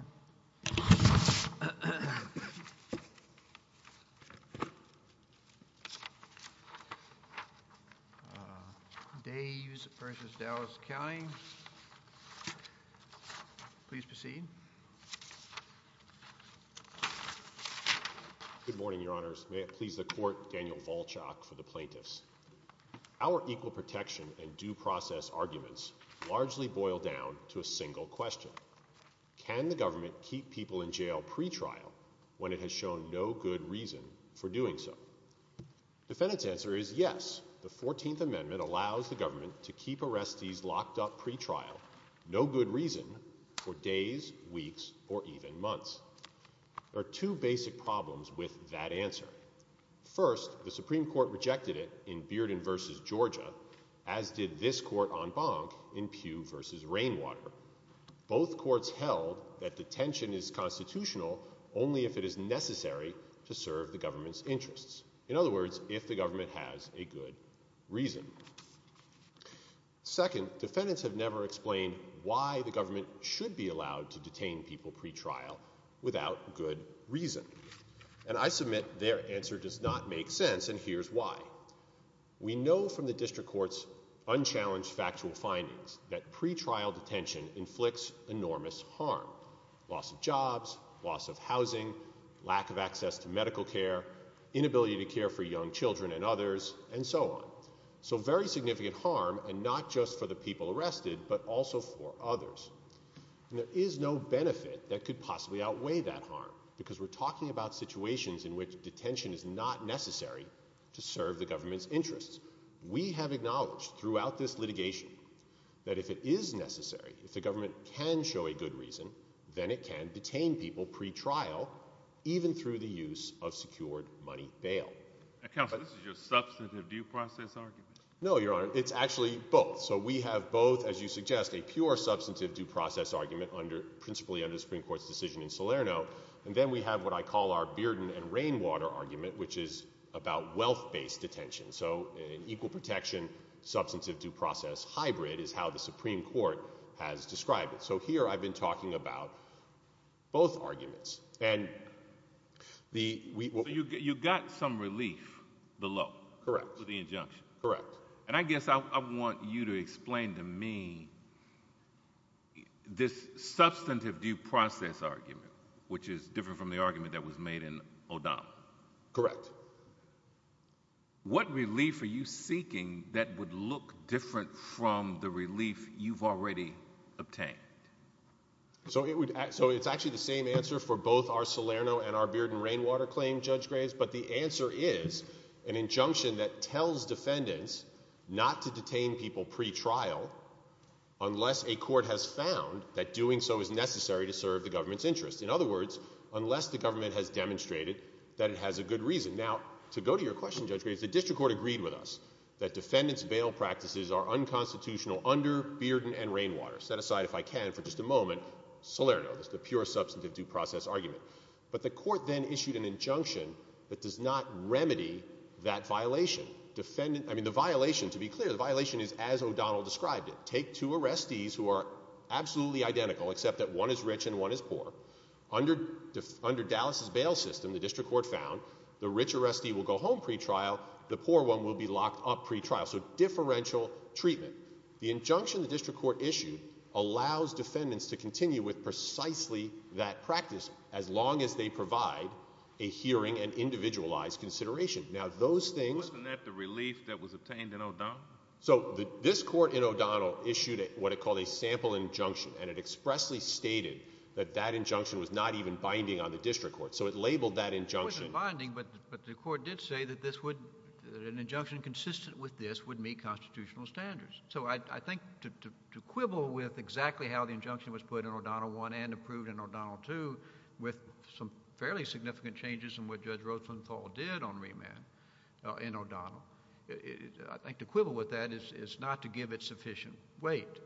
l Good morning, Your Honors. May it please the Court, Daniel Volchok for the plaintiffs. Our equal protection and due process arguments largely boil down to a single question. Can the government keep people in jail pretrial when it has shown no good reason for doing so? Defendant's answer is yes. The 14th Amendment allows the government to keep arrestees locked up pretrial, no good reason, for days, weeks, or even months. There are two basic problems with that answer. First, the Supreme Court rejected it in Bearden v. Georgia, as did this court on Bonk in Pugh v. Rainwater. Both courts held that detention is constitutional only if it is necessary to serve the government's interests. In other words, if the government has a good reason. Second, defendants have never explained why the government should be allowed to detain people pretrial without good reason. And I submit their answer does not make sense, and here's why. We know from the District Court's unchallenged factual findings that pretrial detention inflicts enormous harm. Loss of jobs, loss of housing, lack of access to medical care, inability to care for young children and others, and so on. So very significant harm, and not just for the people arrested, but also for others. And there is no benefit that could possibly outweigh that harm, because we're talking about situations in which detention is not necessary to serve the government's interests. We have acknowledged throughout this litigation that if it is necessary, if the government can show a good reason, then it can detain people pretrial, even through the use of secured money bail. Counsel, this is your substantive due process argument? No, Your Honor, it's actually both. So we have both, as you suggest, a pure substantive due process argument, principally under the Supreme Court's decision in Salerno, and then we have what I call our Bearden and Rainwater argument, which is about wealth-based detention. So an equal protection, substantive due process hybrid is how the Supreme Court has described it. So here I've been talking about both arguments, and the... You got some relief below? Correct. With the injunction? Correct. And I guess I want you to explain to me this substantive due process argument, which is different from the argument that was made in O'Donnell. Correct. What relief are you seeking that would look different from the relief you've already obtained? So it's actually the same answer for both our Salerno and our Bearden and Rainwater claim, Judge Graves, but the answer is an injunction that tells defendants not to detain people pretrial unless a court has found that doing so is necessary to serve the government's interests, unless the government has demonstrated that it has a good reason. Now, to go to your question, Judge Graves, the district court agreed with us that defendants' bail practices are unconstitutional under Bearden and Rainwater. Set aside, if I can, for just a moment, Salerno, the pure substantive due process argument. But the court then issued an injunction that does not remedy that violation. I mean, the violation, to be clear, the violation is as O'Donnell described it. Take two arrestees who are absolutely identical, except that one is rich and one is poor. Under Dallas's bail system, the district court found, the rich arrestee will go home pretrial, the poor one will be locked up pretrial. So differential treatment. The injunction the district court issued allows defendants to continue with precisely that practice as long as they provide a hearing and individualized consideration. Now those things— Wasn't that the relief that was obtained in O'Donnell? So this court in O'Donnell issued what it called a sample injunction, and it expressly stated that that injunction was not even binding on the district court. So it labeled that injunction— It wasn't binding, but the court did say that this would—that an injunction consistent with this would meet constitutional standards. So I think to quibble with exactly how the injunction was put in O'Donnell I and approved in O'Donnell II, with some fairly significant changes in what Judge Rothenthal did on remand in O'Donnell, I think to quibble with that is not to give it sufficient weight.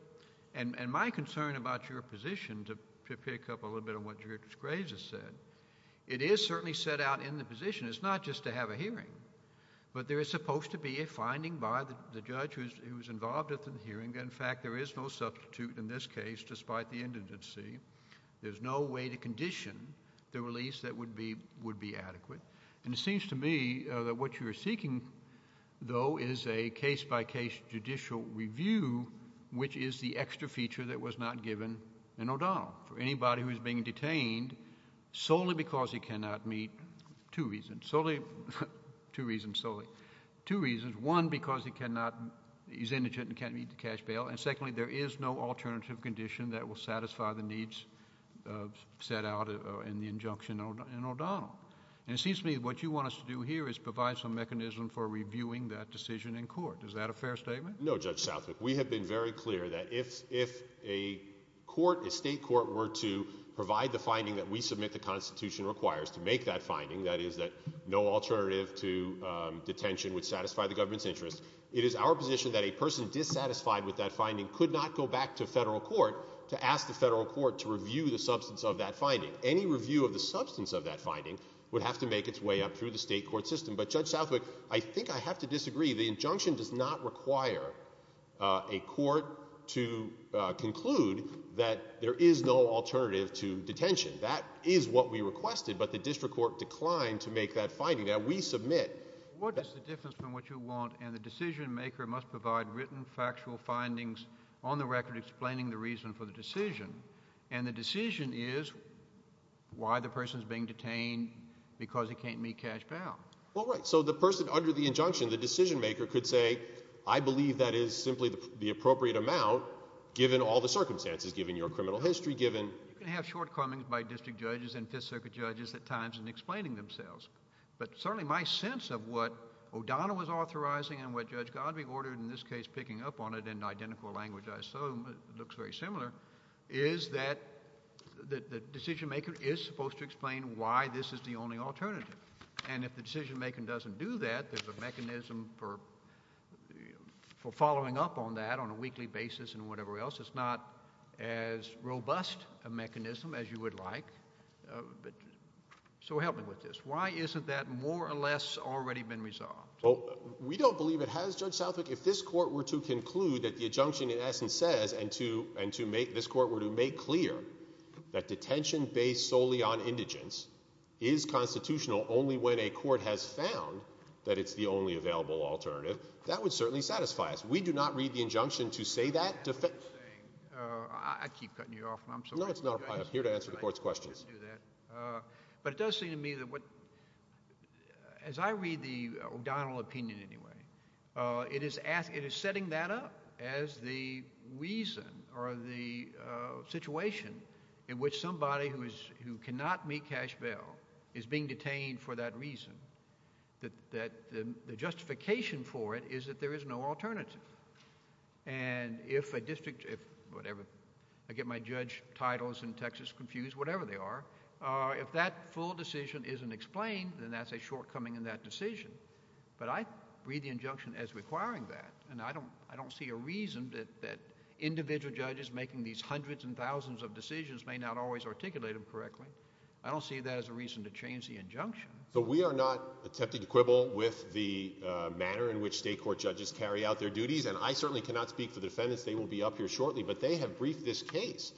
And my concern about your position, to pick up a little bit on what Judge Graves has said, it is certainly set out in the position. It's not just to have a hearing, but there is supposed to be a finding by the judge who is involved at the hearing. In fact, there is no substitute in this case, despite the indigency. There's no way to condition the release that would be adequate. And it seems to me that what you are seeking, though, is a case-by-case judicial review, which is the extra feature that was not given in O'Donnell for anybody who is being detained solely because he cannot meet—two reasons—solely—two reasons solely—two reasons. One, because he cannot—he's indigent and can't meet the cash bail. And secondly, there is no alternative condition that will satisfy the needs set out in the injunction in O'Donnell. And it seems to me what you want us to do here is provide some mechanism for reviewing that decision in court. Is that a fair statement? No, Judge Southwick. We have been very clear that if a court, a state court, were to provide the finding that we submit the Constitution requires to make that finding—that is, that no alternative to detention would satisfy the government's interests—it is our position that a person dissatisfied with that finding could not go back to federal court to ask the federal court to review the substance of that finding. Any review of the substance of that finding would have to make its way up through the state court system. But, Judge Southwick, I think I have to disagree. The injunction does not require a court to conclude that there is no alternative to detention. That is what we requested, but the district court declined to make that finding. Now, we submit— What is the difference from what you want? And the decision-maker must provide written factual findings on the record explaining the reason for the decision. And the decision is why the person is being detained because he can't meet cash bail. Well, right. So the person under the injunction, the decision-maker, could say, I believe that is simply the appropriate amount given all the circumstances, given your criminal history, given— You can have shortcomings by district judges and Fifth Circuit judges at times in explaining themselves. But certainly my sense of what O'Donnell was authorizing and what Judge Godbee ordered, in this case picking up on it in identical language, I assume—it looks very similar—is that the decision-maker is supposed to explain why this is the only alternative. And if the decision-maker doesn't do that, there's a mechanism for following up on that on a weekly basis and whatever else. It's not as robust a mechanism as you would like. So help me with this. Why isn't that more or less already been resolved? We don't believe it has, Judge Southwick. If this Court were to conclude that the injunction in essence says, and this Court were to make clear, that detention based solely on indigence is constitutional only when a court has found that it's the only available alternative, that would certainly satisfy us. We do not read the injunction to say that— I keep cutting you off, and I'm sorry— No, it's not. I'm here to answer the Court's questions. But it does seem to me that what—as I read the O'Donnell opinion anyway, it is setting that up as the reason or the situation in which somebody who cannot meet cash bail is being detained for that reason, that the justification for it is that there is no alternative. And if a district—whatever, I get my judge titles in Texas confused, whatever they are—if that full decision isn't explained, then that's a shortcoming in that decision. But I read the injunction as requiring that, and I don't see a reason that individual judges making these hundreds and thousands of decisions may not always articulate them correctly. I don't see that as a reason to change the injunction. But we are not attempting to quibble with the manner in which state court judges carry out their duties, and I certainly cannot speak for the defendants. They will be up here shortly. But they have briefed this case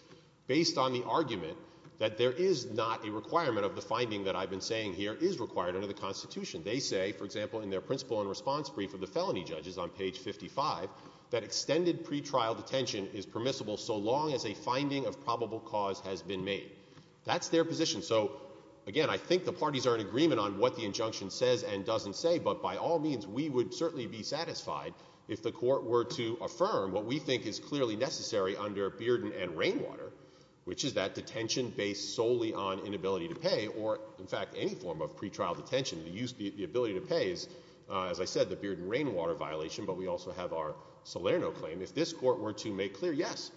based on the argument that there is not a requirement of the finding that I've been saying here is required under the Constitution. They say, for example, in their principle and response brief of the felony judges on page 55, that extended pretrial detention is permissible so long as a finding of probable cause has been made. That's their position. So again, I think the parties are in agreement on what the injunction says and doesn't say, but by all means, we would certainly be satisfied if the Court were to affirm what we think is clearly necessary under Bearden and Rainwater, which is that detention based solely on inability to pay or, in fact, any form of pretrial detention. The ability to pay is, as I said, the Bearden and Rainwater violation, but we also have our Salerno claim. If this Court were to make clear, yes,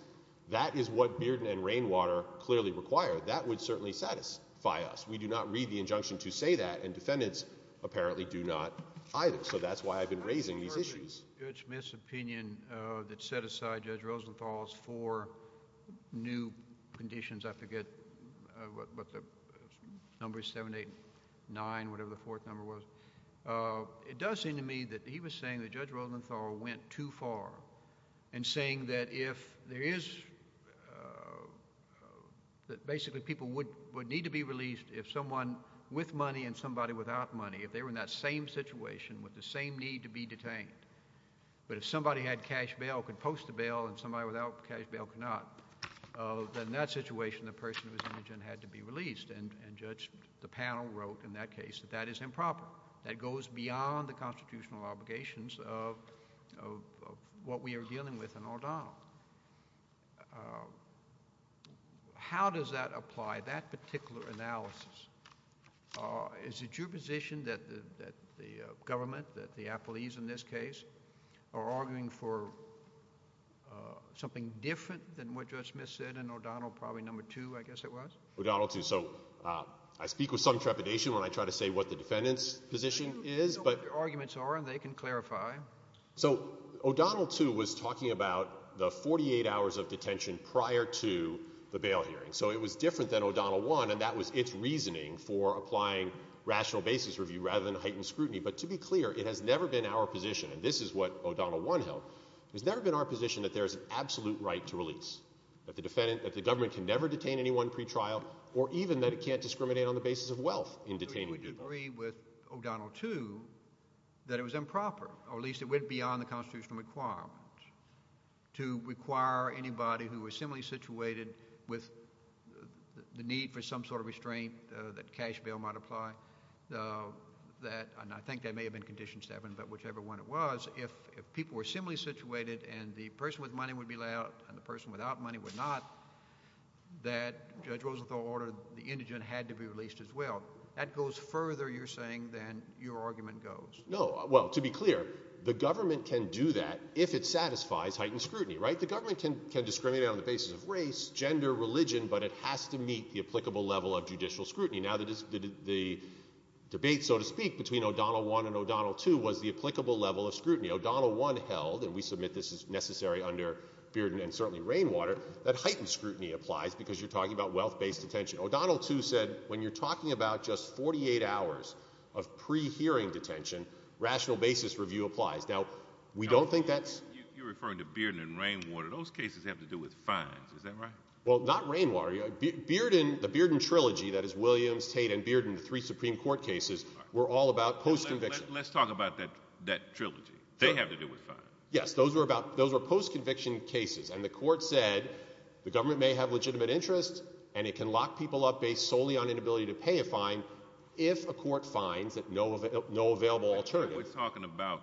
that is what Bearden and Rainwater clearly require, that would certainly satisfy us. We do not read the injunction to say that, and defendants apparently do not either. So that's why I've been raising these issues. I'm concerned that Judge Smith's opinion that set aside Judge Rosenthal's four new conditions, I forget what the number is, 7, 8, 9, whatever the fourth number was, it does seem to me that he was saying that Judge Rosenthal went too far in saying that if there is, that basically people would need to be released if someone with money and somebody without money, if they were in that same situation with the same need to be detained, but if somebody had cash bail, could post the bail, and somebody without cash bail could not, then in that situation the person with the injunction had to be released, and Judge, the panel wrote in that case that that is improper. That goes beyond the constitutional obligations of what we are dealing with in O'Donnell. How does that apply, that particular analysis? Is it your position that the government, that the apologies in this case, are arguing for something different than what Judge Smith said in O'Donnell probably number two, I guess it was? O'Donnell two. So I speak with some trepidation when I try to say what the defendant's position is, but I know what their arguments are, and they can clarify. So O'Donnell two was talking about the 48 hours of detention prior to the bail hearing. So it was different than O'Donnell one, and that was its reasoning for applying rational basis review rather than heightened scrutiny. But to be clear, it has never been our position, and this is what O'Donnell one held, it has never been our position that there is an absolute right to release, that the government can never detain anyone pretrial, or even that it can't discriminate on the basis of wealth in detaining people. But you would agree with O'Donnell two that it was improper, or at least it went beyond the constitutional requirements, to require anybody who was similarly situated with the need for some sort of restraint that cash bail might apply, that, and I think that may have been condition seven, but whichever one it was, if people were similarly situated and the person with money would be let out and the person without money would not, that Judge Rosenthal ordered the indigent had to be released as well. That goes further, you're saying, than your argument goes. No. Well, to be clear, the government can do that if it satisfies heightened scrutiny, right? The government can discriminate on the basis of race, gender, religion, but it has to meet the applicable level of judicial scrutiny. Now, the debate, so to speak, between O'Donnell one and O'Donnell two was the applicable level of scrutiny. O'Donnell one held, and we submit this is necessary under Bearden and certainly Rainwater, that heightened scrutiny applies because you're talking about wealth-based detention. O'Donnell two said, when you're rational basis review applies. Now, we don't think that's... You're referring to Bearden and Rainwater. Those cases have to do with fines. Is that right? Well, not Rainwater. The Bearden trilogy, that is Williams, Tate, and Bearden, the three Supreme Court cases, were all about post-conviction. Let's talk about that trilogy. They have to do with fines. Yes. Those were post-conviction cases, and the court said the government may have legitimate interest and it can lock people up based solely on inability to pay a fine if a court finds that no available alternative... We're talking about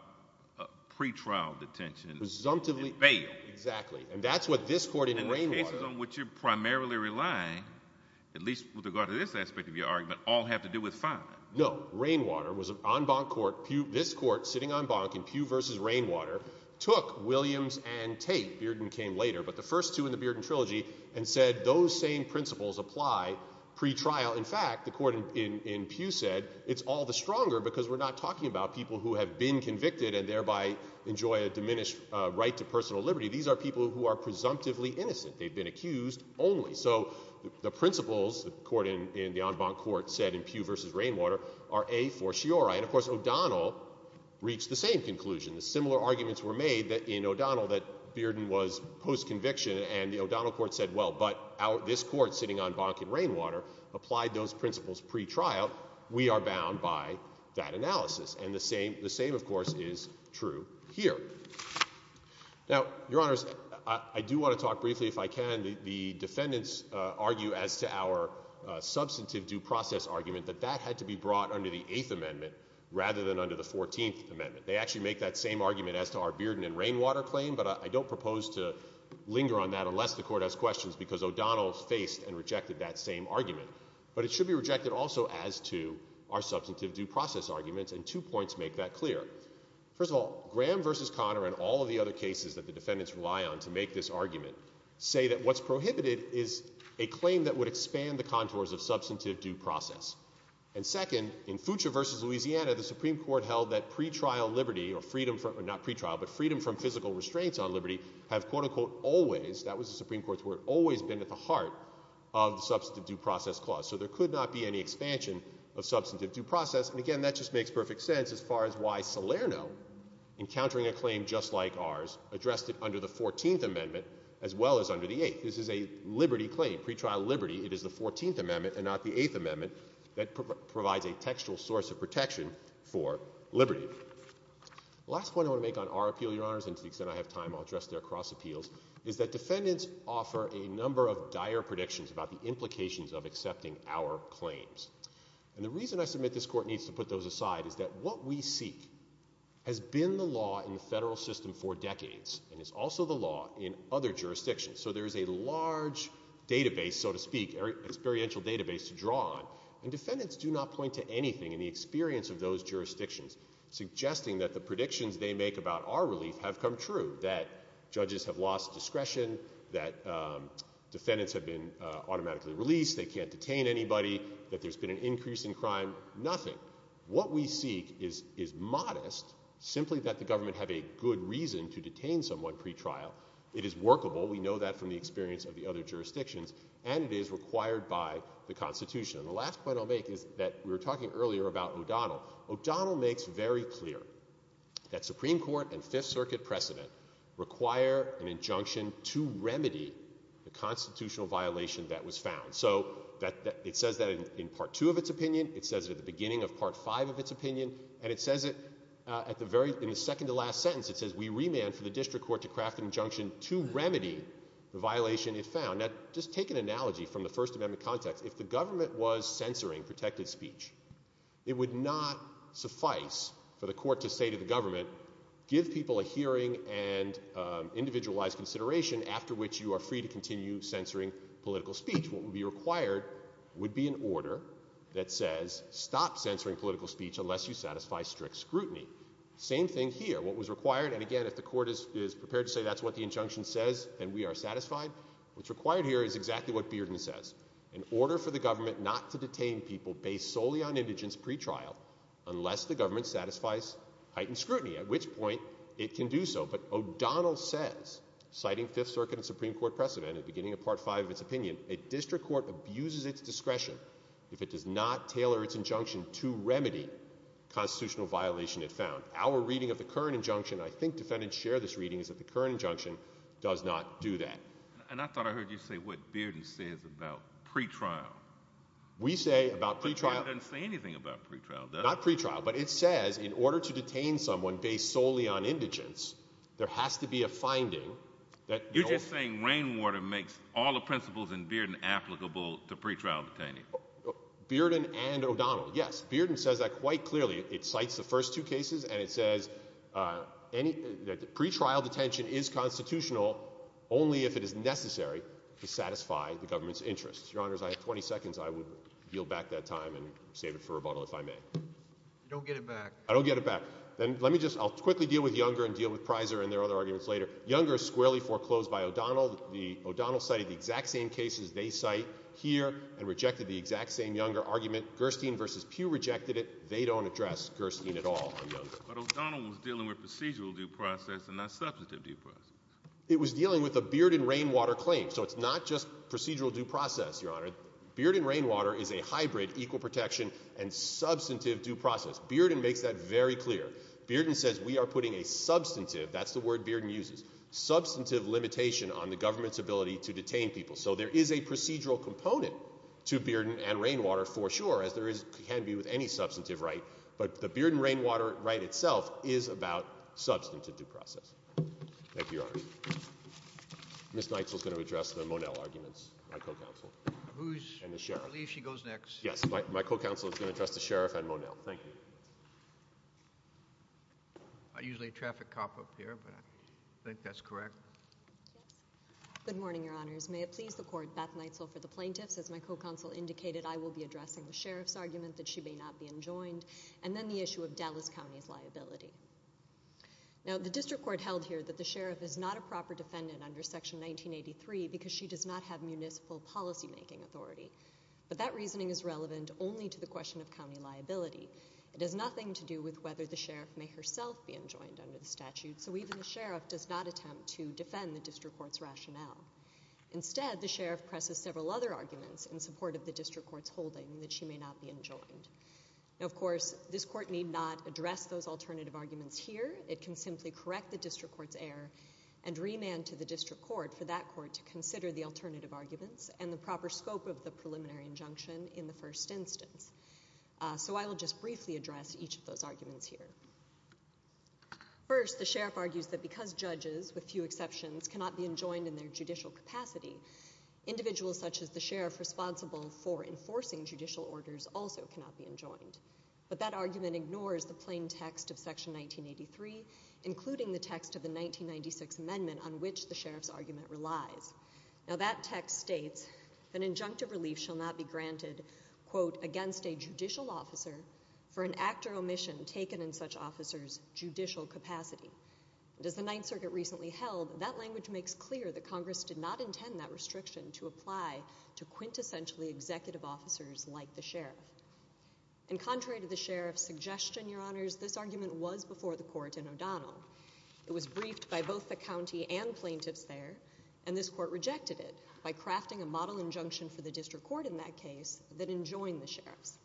pre-trial detention. Presumptively... In bail. Exactly. And that's what this court in Rainwater... And the cases on which you're primarily relying, at least with regard to this aspect of your argument, all have to do with fines. No. Rainwater was an en banc court. This court, sitting en banc in Pew versus Rainwater, took Williams and Tate, Bearden came later, but the first two in the Bearden trilogy, and said those same principles apply pre-trial. In fact, the court in Pew said, it's all the stronger because we're not talking about people who have been convicted and thereby enjoy a diminished right to personal liberty. These are people who are presumptively innocent. They've been accused only. So the principles, the court in the en banc court said in Pew versus Rainwater, are A for Shiori. And of course O'Donnell reached the same conclusion. The similar arguments were made in O'Donnell that Bearden was post-conviction, and the O'Donnell court said, well, but this court, sitting en banc in Rainwater, applied those principles. We are bound by that analysis. And the same, of course, is true here. Now, Your Honors, I do want to talk briefly, if I can. The defendants argue as to our substantive due process argument that that had to be brought under the Eighth Amendment rather than under the Fourteenth Amendment. They actually make that same argument as to our Bearden and Rainwater claim, but I don't propose to linger on that unless the court has questions, because O'Donnell faced and rejected that same argument. But it should be rejected also as to our substantive due process arguments, and two points make that clear. First of all, Graham versus Conner and all of the other cases that the defendants rely on to make this argument say that what's prohibited is a claim that would expand the contours of substantive due process. And second, in Foucher versus Louisiana, the Supreme Court held that pre-trial liberty, or freedom from not pre-trial, but freedom from physical restraints on liberty, have quote-unquote always, that are part of the substantive due process clause. So there could not be any expansion of substantive due process. And again, that just makes perfect sense as far as why Salerno, encountering a claim just like ours, addressed it under the Fourteenth Amendment as well as under the Eighth. This is a liberty claim, pre-trial liberty. It is the Fourteenth Amendment and not the Eighth Amendment that provides a textual source of protection for liberty. Last point I want to make on our appeal, Your Honors, and to the extent I have time, I'll about the implications of accepting our claims. And the reason I submit this Court needs to put those aside is that what we seek has been the law in the federal system for decades and is also the law in other jurisdictions. So there is a large database, so to speak, experiential database to draw on. And defendants do not point to anything in the experience of those jurisdictions suggesting that the predictions they make about our relief have come true, that judges have lost discretion, that defendants have been automatically released, they can't detain anybody, that there's been an increase in crime. Nothing. What we seek is modest, simply that the government have a good reason to detain someone pre-trial. It is workable. We know that from the experience of the other jurisdictions. And it is required by the Constitution. And the last point I'll make is that we were talking earlier about O'Donnell. O'Donnell makes very clear that Supreme Court and Fifth Circuit precedent require an injunction to remedy the constitutional violation that was found. So it says that in Part 2 of its opinion, it says it at the beginning of Part 5 of its opinion, and it says it in the second to last sentence, it says we remand for the District Court to craft an injunction to remedy the violation it found. Now, just take an analogy from the First Amendment context. If the government was censoring protected speech, it would not suffice for the court to say to the government, give people a hearing and individualized consideration, after which you are free to continue censoring political speech. What would be required would be an order that says, stop censoring political speech unless you satisfy strict scrutiny. Same thing here. What was required, and again if the court is prepared to say that's what the injunction says, and we are satisfied, what's required here is exactly what Bearden says. An order for the government not to detain people based solely on indigence pretrial unless the government satisfies heightened scrutiny, at which point it can do so. But O'Donnell says, citing Fifth Circuit and Supreme Court precedent at the beginning of Part 5 of its opinion, a District Court abuses its discretion if it does not tailor its injunction to remedy constitutional violation it found. Our reading of the current injunction, I think defendants share this reading, is that the And I thought I heard you say what Bearden says about pretrial. We say about pretrial But Bearden doesn't say anything about pretrial, does he? Not pretrial, but it says in order to detain someone based solely on indigence, there has to be a finding that You're just saying Rainwater makes all the principles in Bearden applicable to pretrial detaining. Bearden and O'Donnell, yes. Bearden says that quite clearly. It cites the first two cases, and it says pretrial detention is constitutional only if it is necessary to satisfy the government's interests. Your Honors, I have 20 seconds. I would yield back that time and save it for rebuttal if I may. You don't get it back. I don't get it back. Then let me just, I'll quickly deal with Younger and deal with Prysor and their other arguments later. Younger is squarely foreclosed by O'Donnell. O'Donnell cited the exact same cases they cite here and rejected the exact same Younger argument. Gerstein v. Pugh rejected it. They don't address Gerstein at all on Younger. But O'Donnell was dealing with procedural due process and not substantive due process. It was dealing with a Bearden-Rainwater claim. So it's not just procedural due process, Your Honor. Bearden-Rainwater is a hybrid equal protection and substantive due process. Bearden makes that very clear. Bearden says we are putting a substantive, that's the word Bearden uses, substantive limitation on the government's ability to detain people. So there is a procedural component to Bearden and Rainwater for sure, as there is, can be with any substantive right. But the Bearden-Rainwater right itself is about substantive due process. Thank you, Your Honor. Ms. Neitzel is going to address the Monell arguments, my co-counsel, and the sheriff. I believe she goes next. Yes, my co-counsel is going to address the sheriff and Monell. Thank you. I'm usually a traffic cop up here, but I think that's correct. Good morning, Your Honors. May it please the court, Beth Neitzel for the plaintiffs. As my co-counsel indicated, I will be addressing the sheriff's argument that she may not be enjoined, and then the issue of Dallas County's liability. Now, the district court held here that the sheriff is not a proper defendant under Section 1983 because she does not have municipal policymaking authority. But that reasoning is relevant only to the question of county liability. It has nothing to do with whether the sheriff may herself be enjoined under the statute, so even the sheriff does not attempt to defend the district court's in support of the district court's holding that she may not be enjoined. Now, of course, this court need not address those alternative arguments here. It can simply correct the district court's error and remand to the district court for that court to consider the alternative arguments and the proper scope of the preliminary injunction in the first instance. So I will just briefly address each of those arguments here. First, the sheriff argues that because judges, with few exceptions, cannot be enjoined in their judicial capacity, individuals such as the sheriff responsible for enforcing judicial orders also cannot be enjoined. But that argument ignores the plain text of Section 1983, including the text of the 1996 amendment on which the sheriff's argument relies. Now, that text states that injunctive relief shall not be granted, quote, against a judicial officer for an act or omission taken in such officer's judicial capacity. And as the Ninth Circuit recently held, that language makes clear that Congress did not intend that restriction to apply to quintessentially executive officers like the sheriff. And contrary to the sheriff's suggestion, Your Honors, this argument was before the court in O'Donnell. It was briefed by both the county and plaintiffs there, and this court rejected it by crafting a model injunction for the district court in that case that enjoined the sheriff's.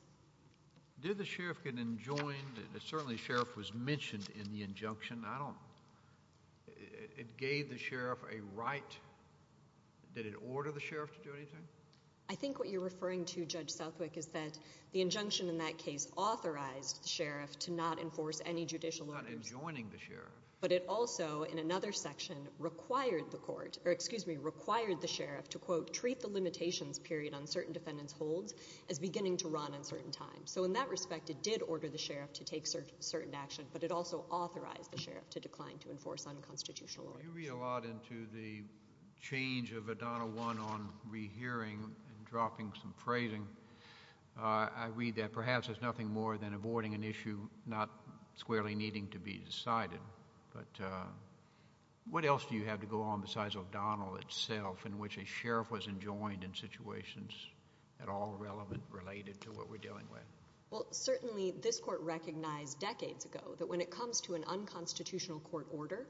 Did the sheriff get enjoined? Certainly, sheriff was mentioned in the injunction. I don't—it gave the sheriff a right. Did it order the sheriff to do anything? I think what you're referring to, Judge Southwick, is that the injunction in that case authorized the sheriff to not enforce any judicial orders. Not enjoining the sheriff. But it also, in another section, required the court—or, excuse me, required the sheriff to, quote, treat the limitations period on certain defendants' holds as beginning to a certain time. So in that respect, it did order the sheriff to take certain action, but it also authorized the sheriff to decline to enforce unconstitutional orders. You read a lot into the change of O'Donnell 1 on rehearing and dropping some phrasing. I read that perhaps there's nothing more than avoiding an issue not squarely needing to be decided. But what else do you have to go on besides O'Donnell itself, in which a sheriff was enjoined in situations at all relevant related to what we're dealing with? Well, certainly, this court recognized decades ago that when it comes to an unconstitutional court order,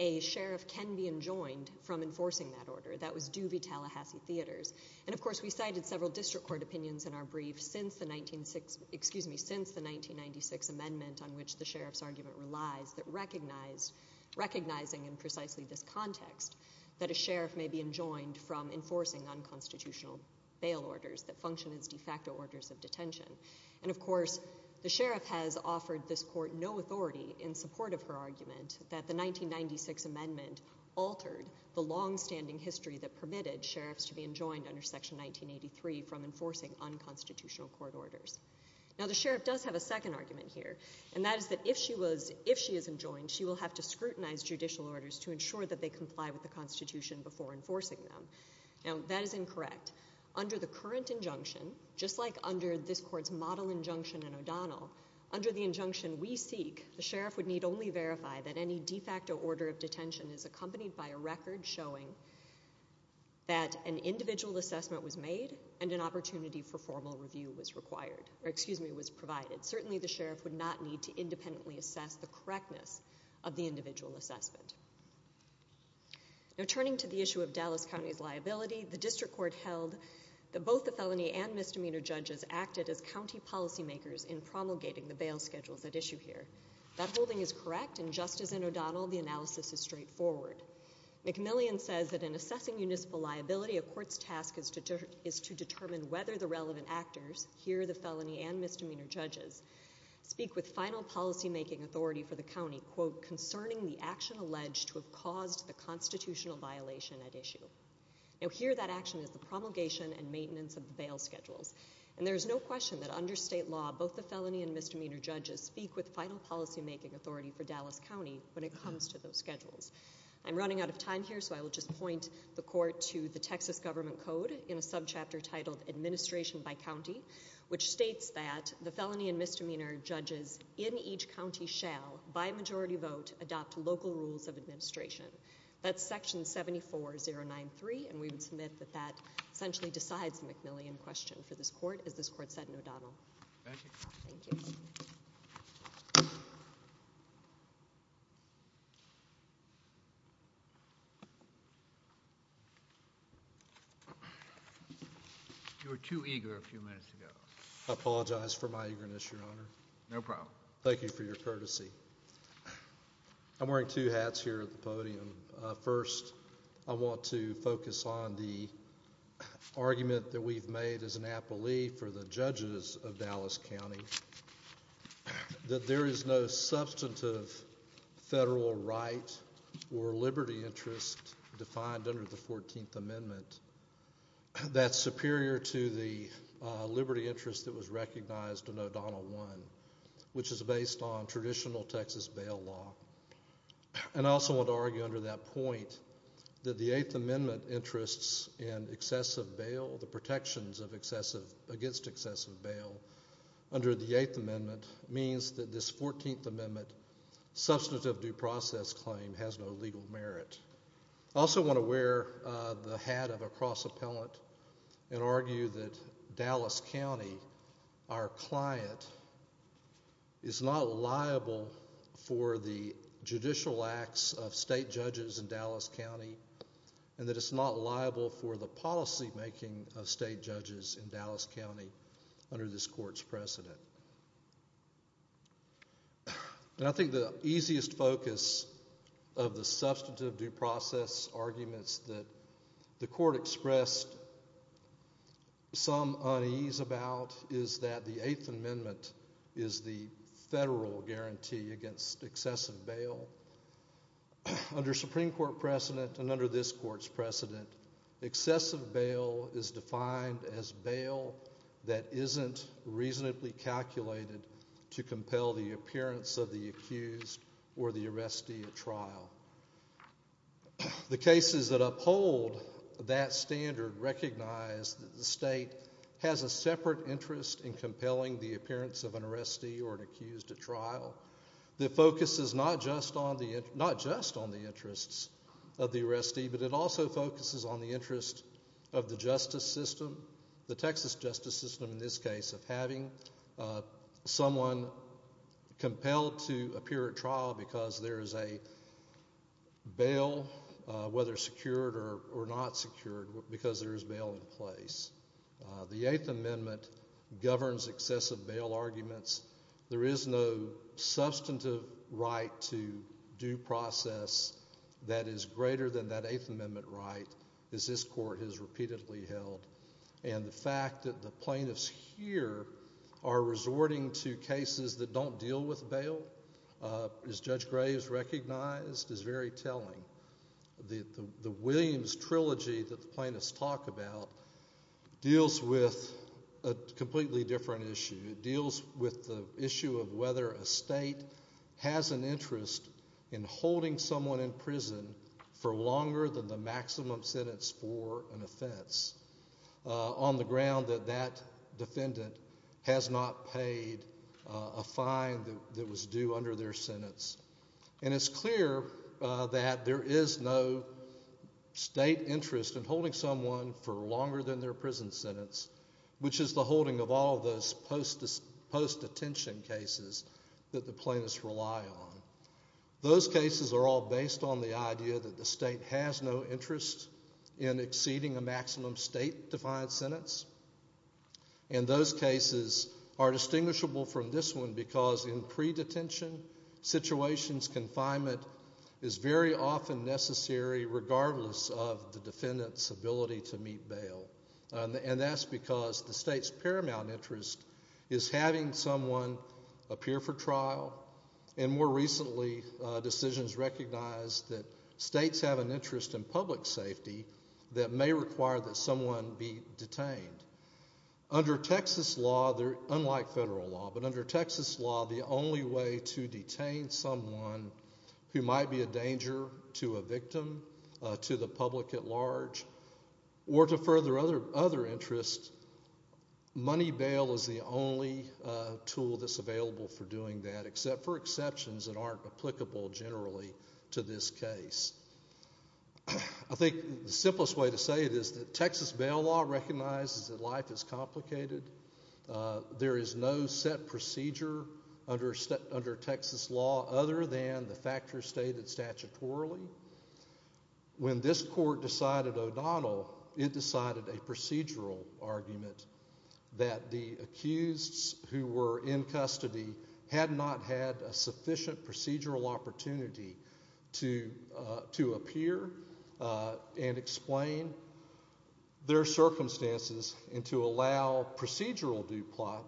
a sheriff can be enjoined from enforcing that order. That was Doobie-Tallahassee Theaters. And, of course, we cited several district court opinions in our brief since the 19—excuse me, since the 1996 amendment on which the sheriff's argument relies that recognizing in precisely this context that a sheriff may be enjoined from enforcing unconstitutional bail orders that function as de facto orders of detention. And, of course, the sheriff has offered this court no authority in support of her argument that the 1996 amendment altered the longstanding history that permitted sheriffs to be enjoined under Section 1983 from enforcing unconstitutional court orders. Now, the sheriff does have a second argument here, and that is that if she is enjoined, she will have to scrutinize judicial orders to ensure that they comply with the Constitution before enforcing them. Now, that is incorrect. Under the current injunction, just like under this court's model injunction in O'Donnell, under the injunction we seek, the sheriff would need only verify that any de facto order of detention is accompanied by a record showing that an individual assessment was made and an opportunity for formal review was required—or, excuse me, was provided. Certainly, the sheriff would not need to independently assess the correctness of the individual assessment. Now, turning to the issue of Dallas County's liability, the district court held that both the felony and misdemeanor judges acted as county policy makers in promulgating the bail schedules at issue here. That holding is correct, and just as in O'Donnell, the analysis is straightforward. McMillian says that in assessing municipal liability, a court's task is to determine whether the relevant actors—here, the felony and misdemeanor judges—speak with final policymaking authority for the county, quote, concerning the action alleged to have caused the constitutional violation at issue. Now, here, that action is the promulgation and maintenance of the bail schedules. And there is no question that under state law, both the felony and misdemeanor judges speak with final policymaking authority for Dallas County when it comes to those schedules. I'm running out of time here, so I will just point the chapter titled Administration by County, which states that the felony and misdemeanor judges in each county shall, by majority vote, adopt local rules of administration. That's section 74093, and we would submit that that essentially decides the McMillian question for this court, as this court said in O'Donnell. Thank you. You were too eager a few minutes ago. I apologize for my eagerness, Your Honor. No problem. Thank you for your courtesy. I'm wearing two hats here at the podium. First, I want to focus on the argument that we've made as an appellee for the judges of Dallas County that there is no substantive federal right or liberty interest defined under the 14th Amendment that's superior to the liberty interest that was recognized in O'Donnell 1, which is based on traditional Texas bail law. And I also want to argue under that point that the 8th Amendment interests in excessive bail, the protections against excessive bail under the 8th Amendment, means that this 14th Amendment substantive due process claim has no legal merit. I also want to wear the hat of a cross-appellant and argue that Dallas County, our client, is not liable for the judicial acts of state judges in Dallas County and that it's not liable for the policymaking of state judges in Dallas County under this court's precedent. And I think the easiest focus of the substantive due process arguments that the court expressed some unease about is that the 8th Amendment is the federal guarantee against excessive bail. Under Supreme Court precedent and under this court's precedent, excessive bail is defined as bail that isn't reasonably calculated to compel the appearance of the accused or the arrestee at trial. The cases that uphold that standard recognize that the state has a separate interest in compelling the appearance of an arrestee or an accused at trial that focuses not just on the interests of the arrestee, but it also focuses on the interest of the justice system, the Texas justice system in this case, of having someone compelled to appear at trial because there is a bail, whether secured or not secured, because there is bail in place. The 8th Amendment governs excessive bail arguments. There is no substantive right to due process that is greater than that 8th Amendment right that this court has repeatedly held. And the fact that the plaintiffs here are resorting to cases that don't deal with bail, as Judge Graves recognized, is very telling. The Williams Trilogy that the plaintiffs talk about deals with a completely different issue. It deals with the issue of whether a state has an interest in holding someone in prison for longer than the maximum sentence for an offense on the ground that that defendant has not paid a fine that was due under their sentence. And it's clear that there is no state interest in holding someone for longer than their prison sentence, which is the holding of all those post-detention cases that the plaintiffs rely on. Those cases are all based on the idea that the state has no interest in exceeding a maximum state-defined sentence. And those cases are distinguishable from this one because in pre-detention situations, confinement is very often necessary regardless of the defendant's ability to meet bail. And that's because the state's paramount interest is having someone appear for trial. And more recently, decisions recognized that states have an interest in public safety that may require that someone be detained. Under Texas law, unlike federal law, but under Texas law, the only way to detain someone who might be a danger to a victim, to the public at large, or to further other interests, money bail is the only tool that's available for doing that, except for exceptions that aren't applicable generally to this case. I think the simplest way to say it is that Texas bail law recognizes that life is complicated. There is no set procedure under Texas law other than the factors stated statutorily. When this court decided O'Donnell, it decided a procedural argument that the accused who were in custody had not had a sufficient procedural opportunity to appear and explain their circumstances and to allow procedural due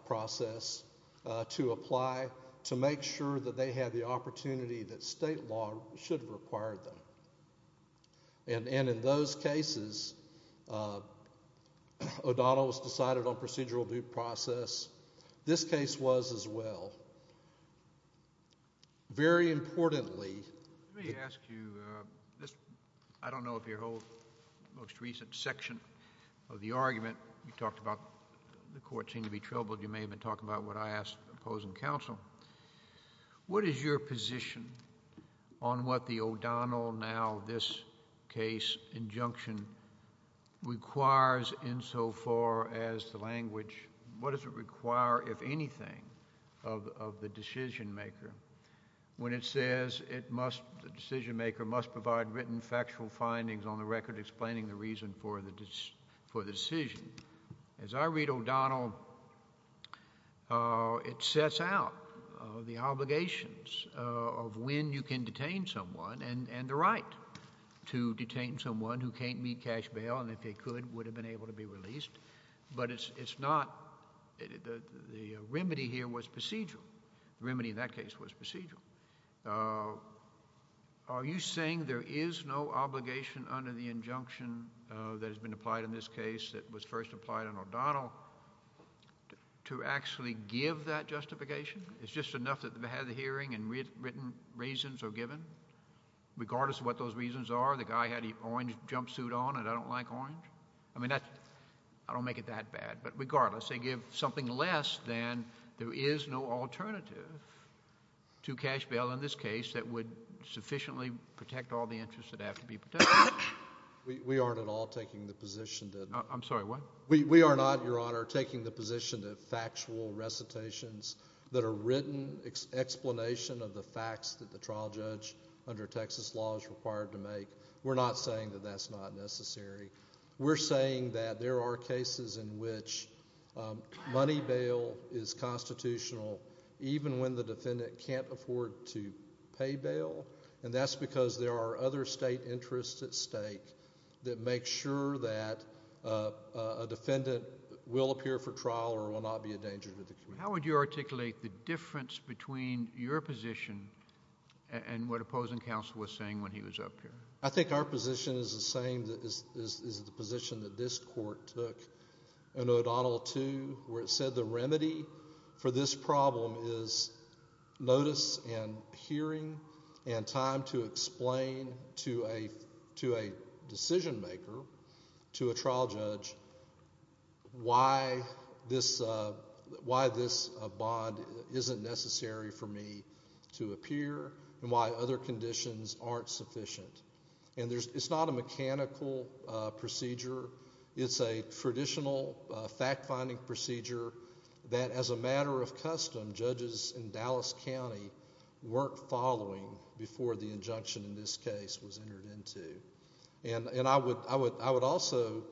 process to apply to make sure that they had the opportunity that state law should have required them. And in those cases, O'Donnell was decided on procedural due process. This case was as well. Very importantly... Let me ask you, I don't know if your whole most recent section of the argument you talked about the court seemed to be troubled. You may have been talking about what I asked the opposing counsel. What is your position on what the O'Donnell, now this case, injunction requires insofar as the language... What does it require, if anything, of the decision maker when it says the decision maker must provide written factual findings on the record without explaining the reason for the decision? As I read O'Donnell, it sets out the obligations of when you can detain someone and the right to detain someone who can't meet cash bail and if they could, would have been able to be released. But it's not... The remedy here was procedural. The remedy in that case was procedural. Thank you. Are you saying there is no obligation under the injunction that has been applied in this case that was first applied on O'Donnell to actually give that justification? It's just enough that they've had the hearing and written reasons are given? Regardless of what those reasons are? The guy had the orange jumpsuit on and I don't like orange? I mean, I don't make it that bad, but regardless, they give something less than there is no alternative to cash bail in this case that would sufficiently protect all the interests that have to be protected. We aren't at all taking the position that... I'm sorry, what? We are not, Your Honor, taking the position that factual recitations that are written explanation of the facts that the trial judge under Texas law is required to make. We're not saying that that's not necessary. We're saying that there are cases in which money bail is constitutional even when the defendant can't afford to pay bail and that's because there are other state interests at stake that make sure that a defendant will appear for trial or will not be a danger to the community. How would you articulate the difference between your position and what opposing counsel was saying when he was up here? I think our position is the same as the position that this court took in O'Donnell 2 where it said the remedy for this problem is notice and hearing and time to explain to a decision maker, to a trial judge, why this bond isn't necessary for me to appear and why other conditions aren't sufficient. And it's not a mechanical procedure. It's a traditional fact-finding procedure that as a matter of custom judges in Dallas County weren't following before the injunction in this case was entered into. And I would also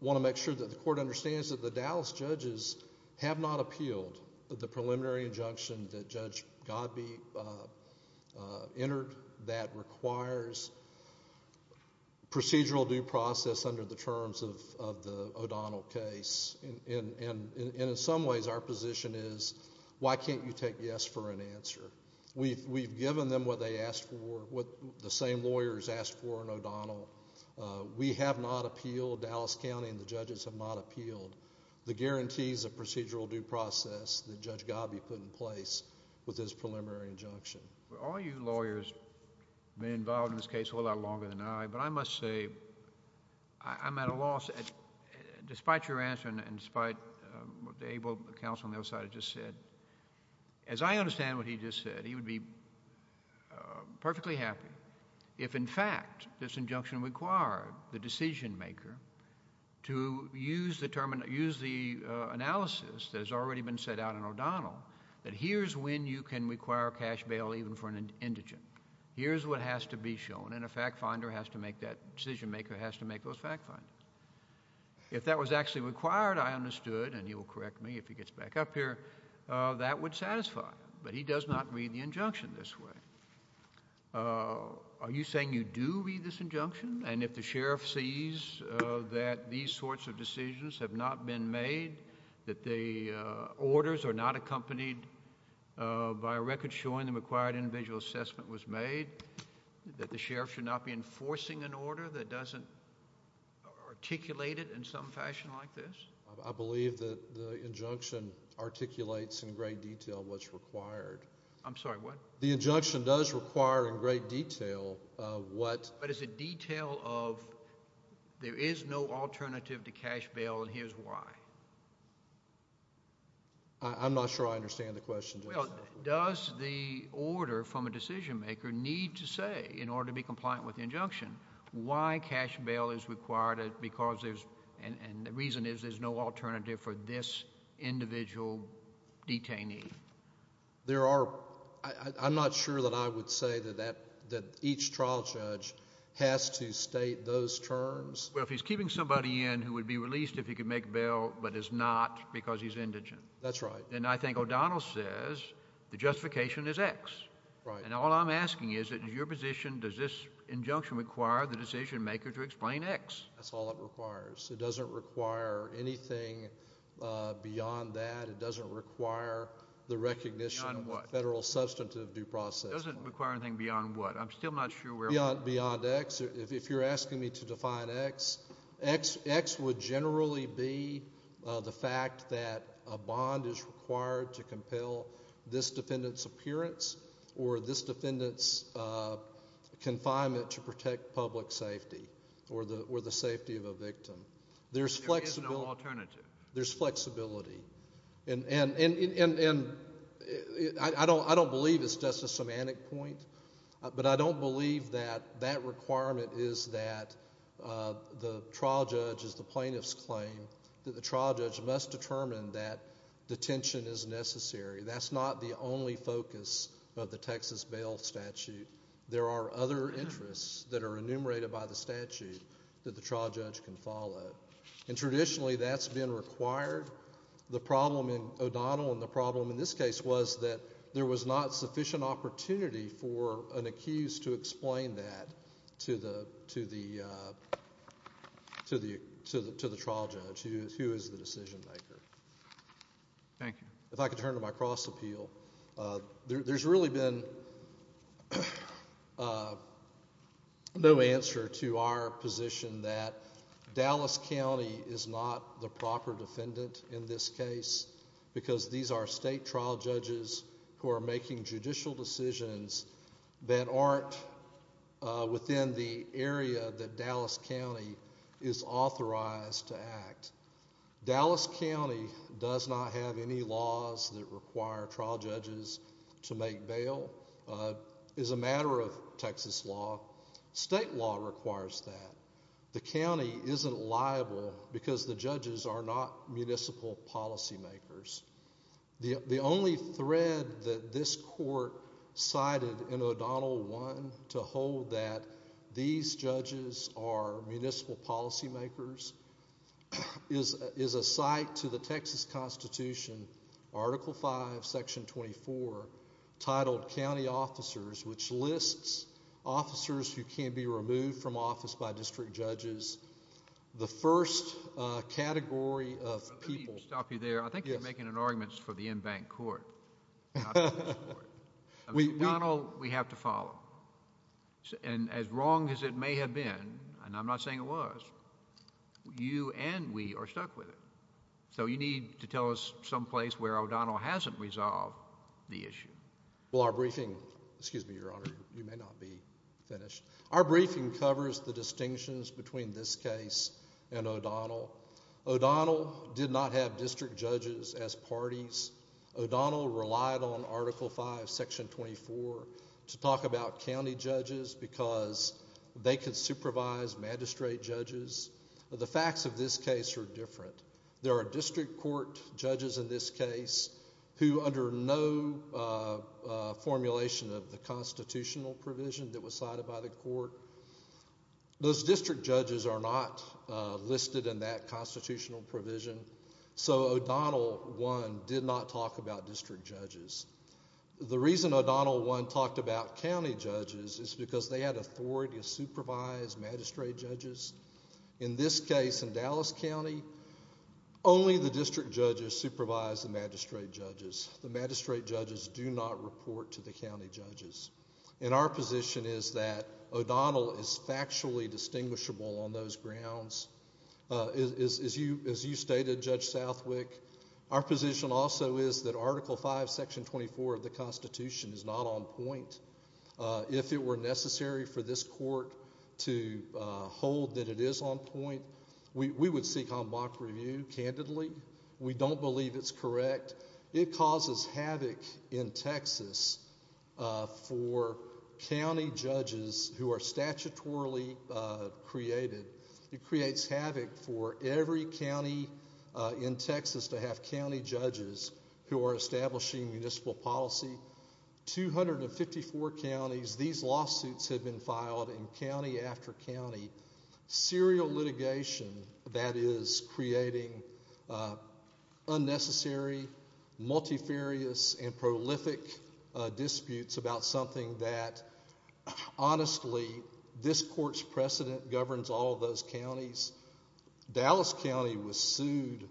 want to make sure that the court understands that the Dallas judges have not appealed the preliminary injunction that Judge Godbee entered that requires procedural due process under the terms of the O'Donnell case. And in some ways our position is why can't you take yes for an answer? We've given them what they asked for, what the same lawyers asked for in O'Donnell. We have not appealed, Dallas County and the judges have not appealed the guarantees of procedural due process that Judge Godbee put in place with his preliminary injunction. All you lawyers have been involved in this case a lot longer than I, but I must say I'm at a loss, despite your answer and despite what the able counsel on the other side just said, as I understand what he just said, he would be perfectly happy if in fact this injunction required the decision maker to use the analysis that has already been set out in O'Donnell that here's when you can require cash bail even for an indigent. Here's what has to be shown and a fact finder has to make that, decision maker has to make those fact findings. If that was actually required, I understood, and he will correct me if he gets back up here, that would satisfy him. But he does not read the injunction this way. Are you saying you do read this injunction? And if the sheriff sees that these sorts of decisions have not been made, that the orders are not accompanied by a record showing the required individual assessment was made, that the sheriff should not be enforcing an order that doesn't articulate it in some fashion like this? I believe that the injunction articulates in great detail what's required. I'm sorry, what? The injunction does require in great detail what... But it's a detail of there is no alternative to cash bail and here's why. I'm not sure I understand the question. Well, does the order from a decision maker need to say, in order to be compliant with the injunction, why cash bail is required because there's, and the reason is there's no alternative for this individual detainee? There are, I'm not sure that I would say that each trial judge has to state those terms. Well, if he's keeping somebody in who would be released if he could make bail but is not because he's indigent. That's right. And I think O'Donnell says the justification is X. Right. And all I'm asking is that in your position, does this injunction require the decision maker to explain X? That's all it requires. It doesn't require anything beyond that. It doesn't require the recognition of federal substantive due process. It doesn't require anything beyond what? I'm still not sure where... Beyond X. If you're asking me to define X, X would generally be the fact that a bond is required to compel this defendant's appearance or this defendant's confinement to protect public safety or the safety of a victim. There is no alternative. There's flexibility. And I don't believe it's just a semantic point, but I don't believe that that requirement is that the trial judge, as the plaintiffs claim, that the trial judge must determine that detention is necessary. That's not the only focus of the Texas bail statute. There are other interests that are enumerated by the statute that the trial judge can follow. And traditionally that's been required. The problem in O'Donnell and the problem in this case was that there was not sufficient opportunity for an accused to explain that to the trial judge, who is the decision maker. Thank you. If I could turn to my cross appeal. There's really been no answer to our position that Dallas County is not the proper defendant in this case because these are state trial judges who are making judicial decisions that aren't within the area that Dallas County is authorized to act. Dallas County does not have any laws that require trial judges to make bail. It's a matter of Texas law. State law requires that. The county isn't liable because the judges are not municipal policy makers. The only thread that this court cited in O'Donnell 1 to hold that these judges are municipal policy makers is a site to the Texas Constitution, Article 5, Section 24, titled County Officers, which lists officers who can be removed from office by district judges. The first category of people... Let me stop you there. I think you're making an argument for the embanked court. O'Donnell we have to follow. And as wrong as it may have been, and I'm not saying it was, you and we are stuck with it. So you need to tell us some place where O'Donnell hasn't resolved the issue. Well, our briefing... Excuse me, Your Honor. You may not be finished. Our briefing covers the distinctions between this case and O'Donnell. O'Donnell did not have district judges as parties. O'Donnell relied on Article 5, Section 24 to talk about county judges because they could supervise magistrate judges. The facts of this case are different. There are district court judges in this case who under no formulation of the constitutional provision that was cited by the court. Those district judges are not listed in that constitutional provision. So O'Donnell, one, did not talk about district judges. The reason O'Donnell, one, talked about county judges is because they had authority to supervise magistrate judges. In this case, in Dallas County, only the district judges supervised the magistrate judges. The magistrate judges do not report to the county judges. And our position is that O'Donnell is factually distinguishable on those grounds. As you stated, Judge Southwick, our position also is that Article 5, Section 24 of the Constitution is not on point. If it were necessary for this court to hold that it is on point, we would seek en bloc review, candidly. We don't believe it's correct. It causes havoc in Texas for county judges who are statutorily created. It creates havoc for every county in Texas to have county judges who are establishing municipal policy. In some 254 counties, these lawsuits have been filed in county after county. Serial litigation that is creating unnecessary, multifarious, and prolific disputes about something that, honestly, this court's precedent governs all of those counties. Dallas County was sued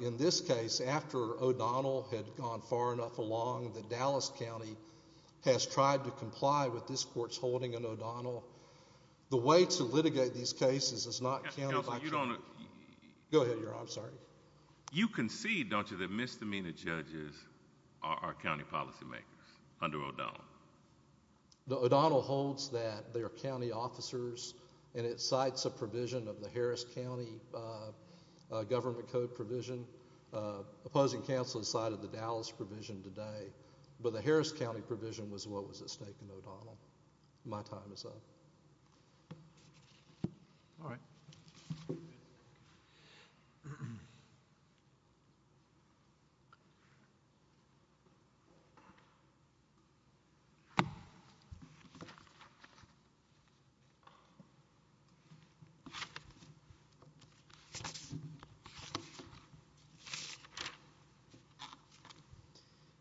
in this case after O'Donnell had gone far enough along that Dallas County has tried to comply with this court's holding on O'Donnell. The way to litigate these cases is not counted by... Go ahead, Your Honor. I'm sorry. You concede, don't you, that misdemeanor judges are county policymakers under O'Donnell? O'Donnell holds that they're county officers and it cites a provision of the Harris County Government Code provision. Opposing counsel decided the Dallas provision today, but the Harris County provision was what was at stake in O'Donnell. My time is up. All right.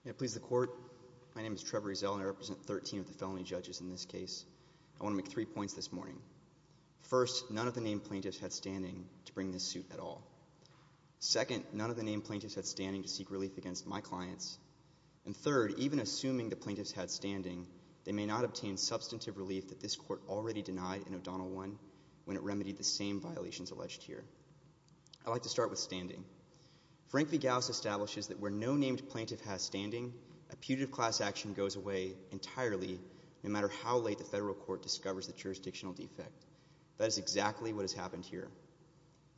May it please the court. My name is Trevor Ezell and I represent 13 of the felony judges in this case. I want to make three points this morning. First, none of the named plaintiffs had standing to bring this suit at all. Second, none of the named plaintiffs had standing to seek relief against my clients. And third, even assuming the plaintiffs had standing, they may not obtain substantive relief that this court already denied in O'Donnell 1 when it remedied the same violations alleged here. I'd like to start with standing. Frank v. Gause establishes that where no named plaintiff has standing, a putative class action goes away entirely no matter how late the federal court discovers the jurisdictional defect. That is exactly what has happened here.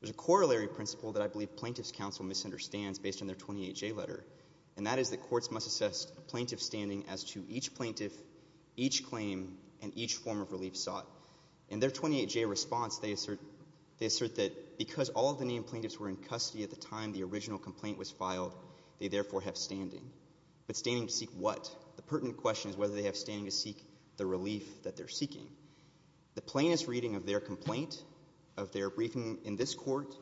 There's a corollary principle that I believe plaintiff's counsel misunderstands based on their 28J letter, and that is that courts must assess plaintiff's standing as to each plaintiff, each claim, and each form of relief sought. In their 28J response, they assert that because all of the named plaintiffs were in custody at the time the original complaint was filed, they therefore have standing. But standing to seek what? The pertinent question is whether they have standing to seek the relief that they're seeking. The plainest reading of their complaint, of their briefing in this court,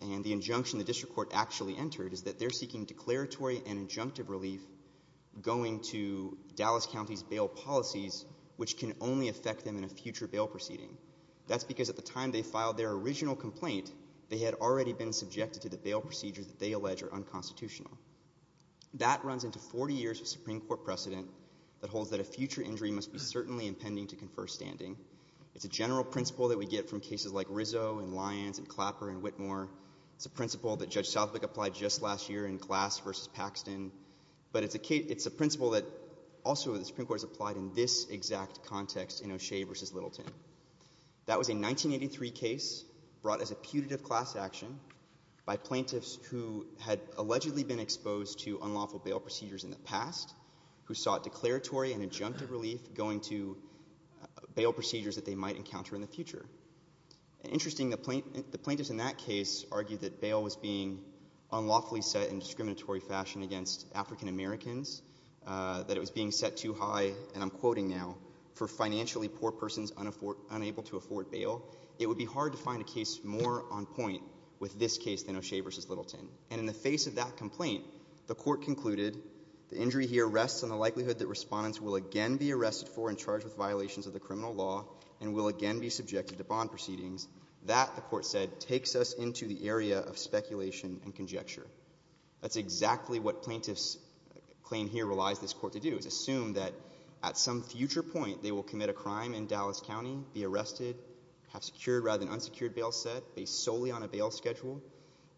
and the injunction the district court actually entered, is that they're seeking declaratory and injunctive relief going to Dallas County's bail policies which can only affect them in a future bail proceeding. That's because at the time they filed their original complaint, they had already been subjected to the bail procedures that they allege are unconstitutional. That runs into 40 years of Supreme Court precedent that holds that a future injury must be certainly impending to confer standing. It's a general principle that we get from cases like Rizzo and Lyons and Clapper and Whitmore. It's a principle that Judge Southwick applied just last year in Glass v. Paxton. But it's a principle that also the Supreme Court has applied in this exact context in O'Shea v. Littleton. That was a 1983 case brought as a putative class action by plaintiffs who had allegedly been exposed to unlawful bail procedures in the past who sought declaratory and injunctive relief going to bail procedures that they might encounter in the future. Interesting, the plaintiffs in that case argued that bail was being unlawfully set in discriminatory fashion against African Americans, that it was being set too high, and I'm quoting now, for financially poor persons unable to afford bail. It would be hard to find a case more on point with this case than O'Shea v. Littleton. And in the face of that complaint, the court concluded the injury here rests on the likelihood that respondents will again be arrested for and charged with violations of the criminal law and will again be subjected to bond proceedings. That, the court said, takes us into the area of speculation and conjecture. That's exactly what plaintiffs claim here relies this court to do, is assume that at some future point they will commit a crime in Dallas County, be arrested, have secured rather than unsecured bail set based solely on a bail schedule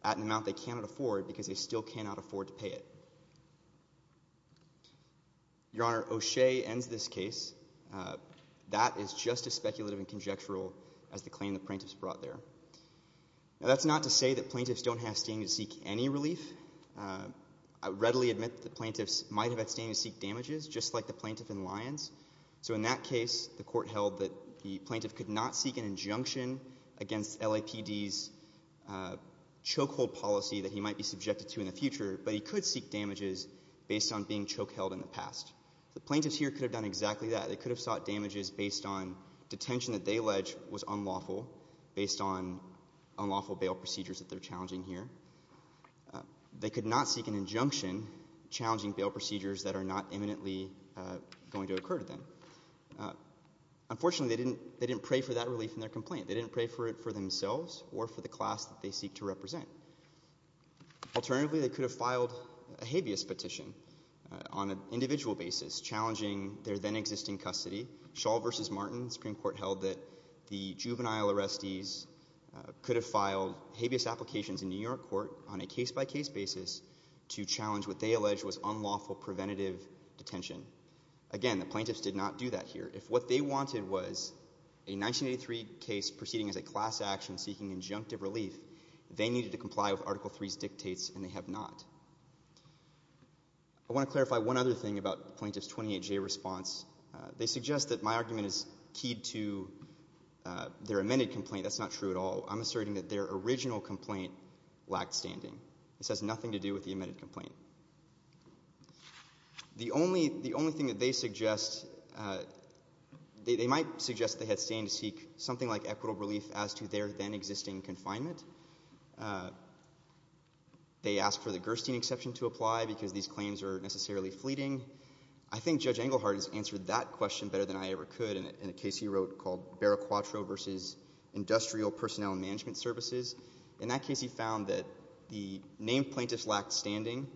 at an amount they cannot afford because they still cannot afford to pay it. Your Honor, O'Shea ends this case. That is just as speculative and conjectural as the claim the plaintiffs brought there. Now that's not to say that plaintiffs don't have standing to seek any relief. I readily admit that the plaintiffs might have had standing to seek damages, just like the plaintiff in Lyons. So in that case, the court held that the plaintiff could not seek an injunction against LAPD's chokehold policy that he might be subjected to in the future, but he could seek damages based on being They could have sought damages based on detention that they allege was unlawful, based on unlawful bail procedures that they're challenging here. They could not seek an injunction challenging bail procedures that are not imminently going to occur to them. Unfortunately, they didn't pray for that relief in their complaint. They didn't pray for it for themselves or for the class that they seek to represent. Alternatively, they could have filed a habeas petition on an individual basis, challenging their then-existing custody. Shaw v. Martin Supreme Court held that the juvenile arrestees could have filed habeas applications in New York court on a case-by-case basis to challenge what they allege was unlawful preventative detention. Again, the plaintiffs did not do that here. If what they wanted was a 1983 case proceeding as a class action seeking injunctive relief, they needed to comply with Article III's dictates, and they have not. I want to clarify one other thing about the plaintiffs' 28-J response. They suggest that my argument is keyed to their amended complaint. That's not true at all. I'm asserting that their original complaint lacked standing. This has nothing to do with the amended complaint. The only thing that they suggest they might suggest they had stand to seek something like equitable relief as to their then-existing confinement. They ask for the Gerstein exception to apply because these claims are necessarily fleeting. I think Judge Engelhardt has answered that question better than I ever could in a case he wrote called Barraquatro v. Industrial Personnel and Management Services. In that case, he found that the named plaintiffs lacked standing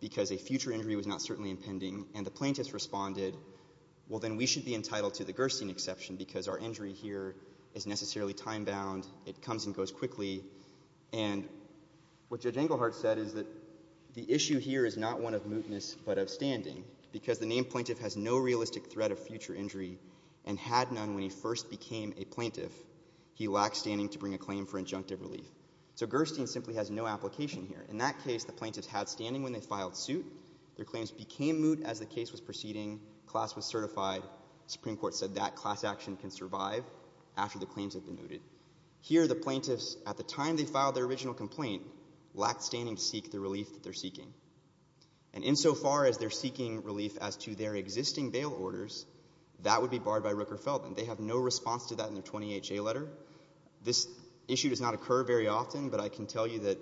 because a future injury was not certainly impending, and the plaintiffs responded, well, then we should be entitled to the Gerstein exception because our injury here is necessarily time-bound. It comes and goes quickly. And what Judge Engelhardt said is that the issue here is not one of mootness but of standing because the named plaintiff has no realistic threat of future injury and had none when he first became a plaintiff. He lacked standing to bring a claim for injunctive relief. So Gerstein simply has no application here. In that case, the plaintiffs had standing when they filed suit. Their claims became moot as the case was proceeding. Class was certified. The Supreme Court said that class action can survive after the claims have been mooted. Here, the plaintiffs, at the time they filed their original complaint, lacked standing to seek the relief that they're seeking. And insofar as they're seeking relief as to their existing bail orders, that would be barred by Rooker-Feldman. They have no response to that in their 20HA letter. This issue does not occur very often, but I can tell you that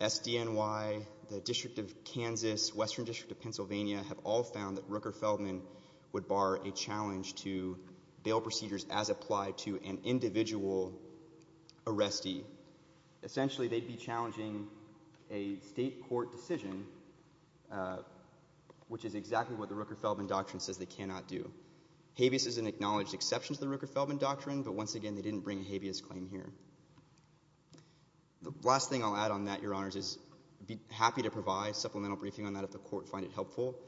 SDNY, the District of Kansas, Western District of Pennsylvania have all found that Rooker-Feldman would bar a challenge to bail procedures as applied to an individual arrestee. Essentially, they'd be challenging a state court decision, which is exactly what the Rooker-Feldman Doctrine says they cannot do. Habeas is an acknowledged exception to the Rooker-Feldman Doctrine, but once again they didn't bring a Habeas claim here. The last thing I'll add on that, Your Honors, is I'd be happy to provide supplemental briefing on that if the court finds it helpful.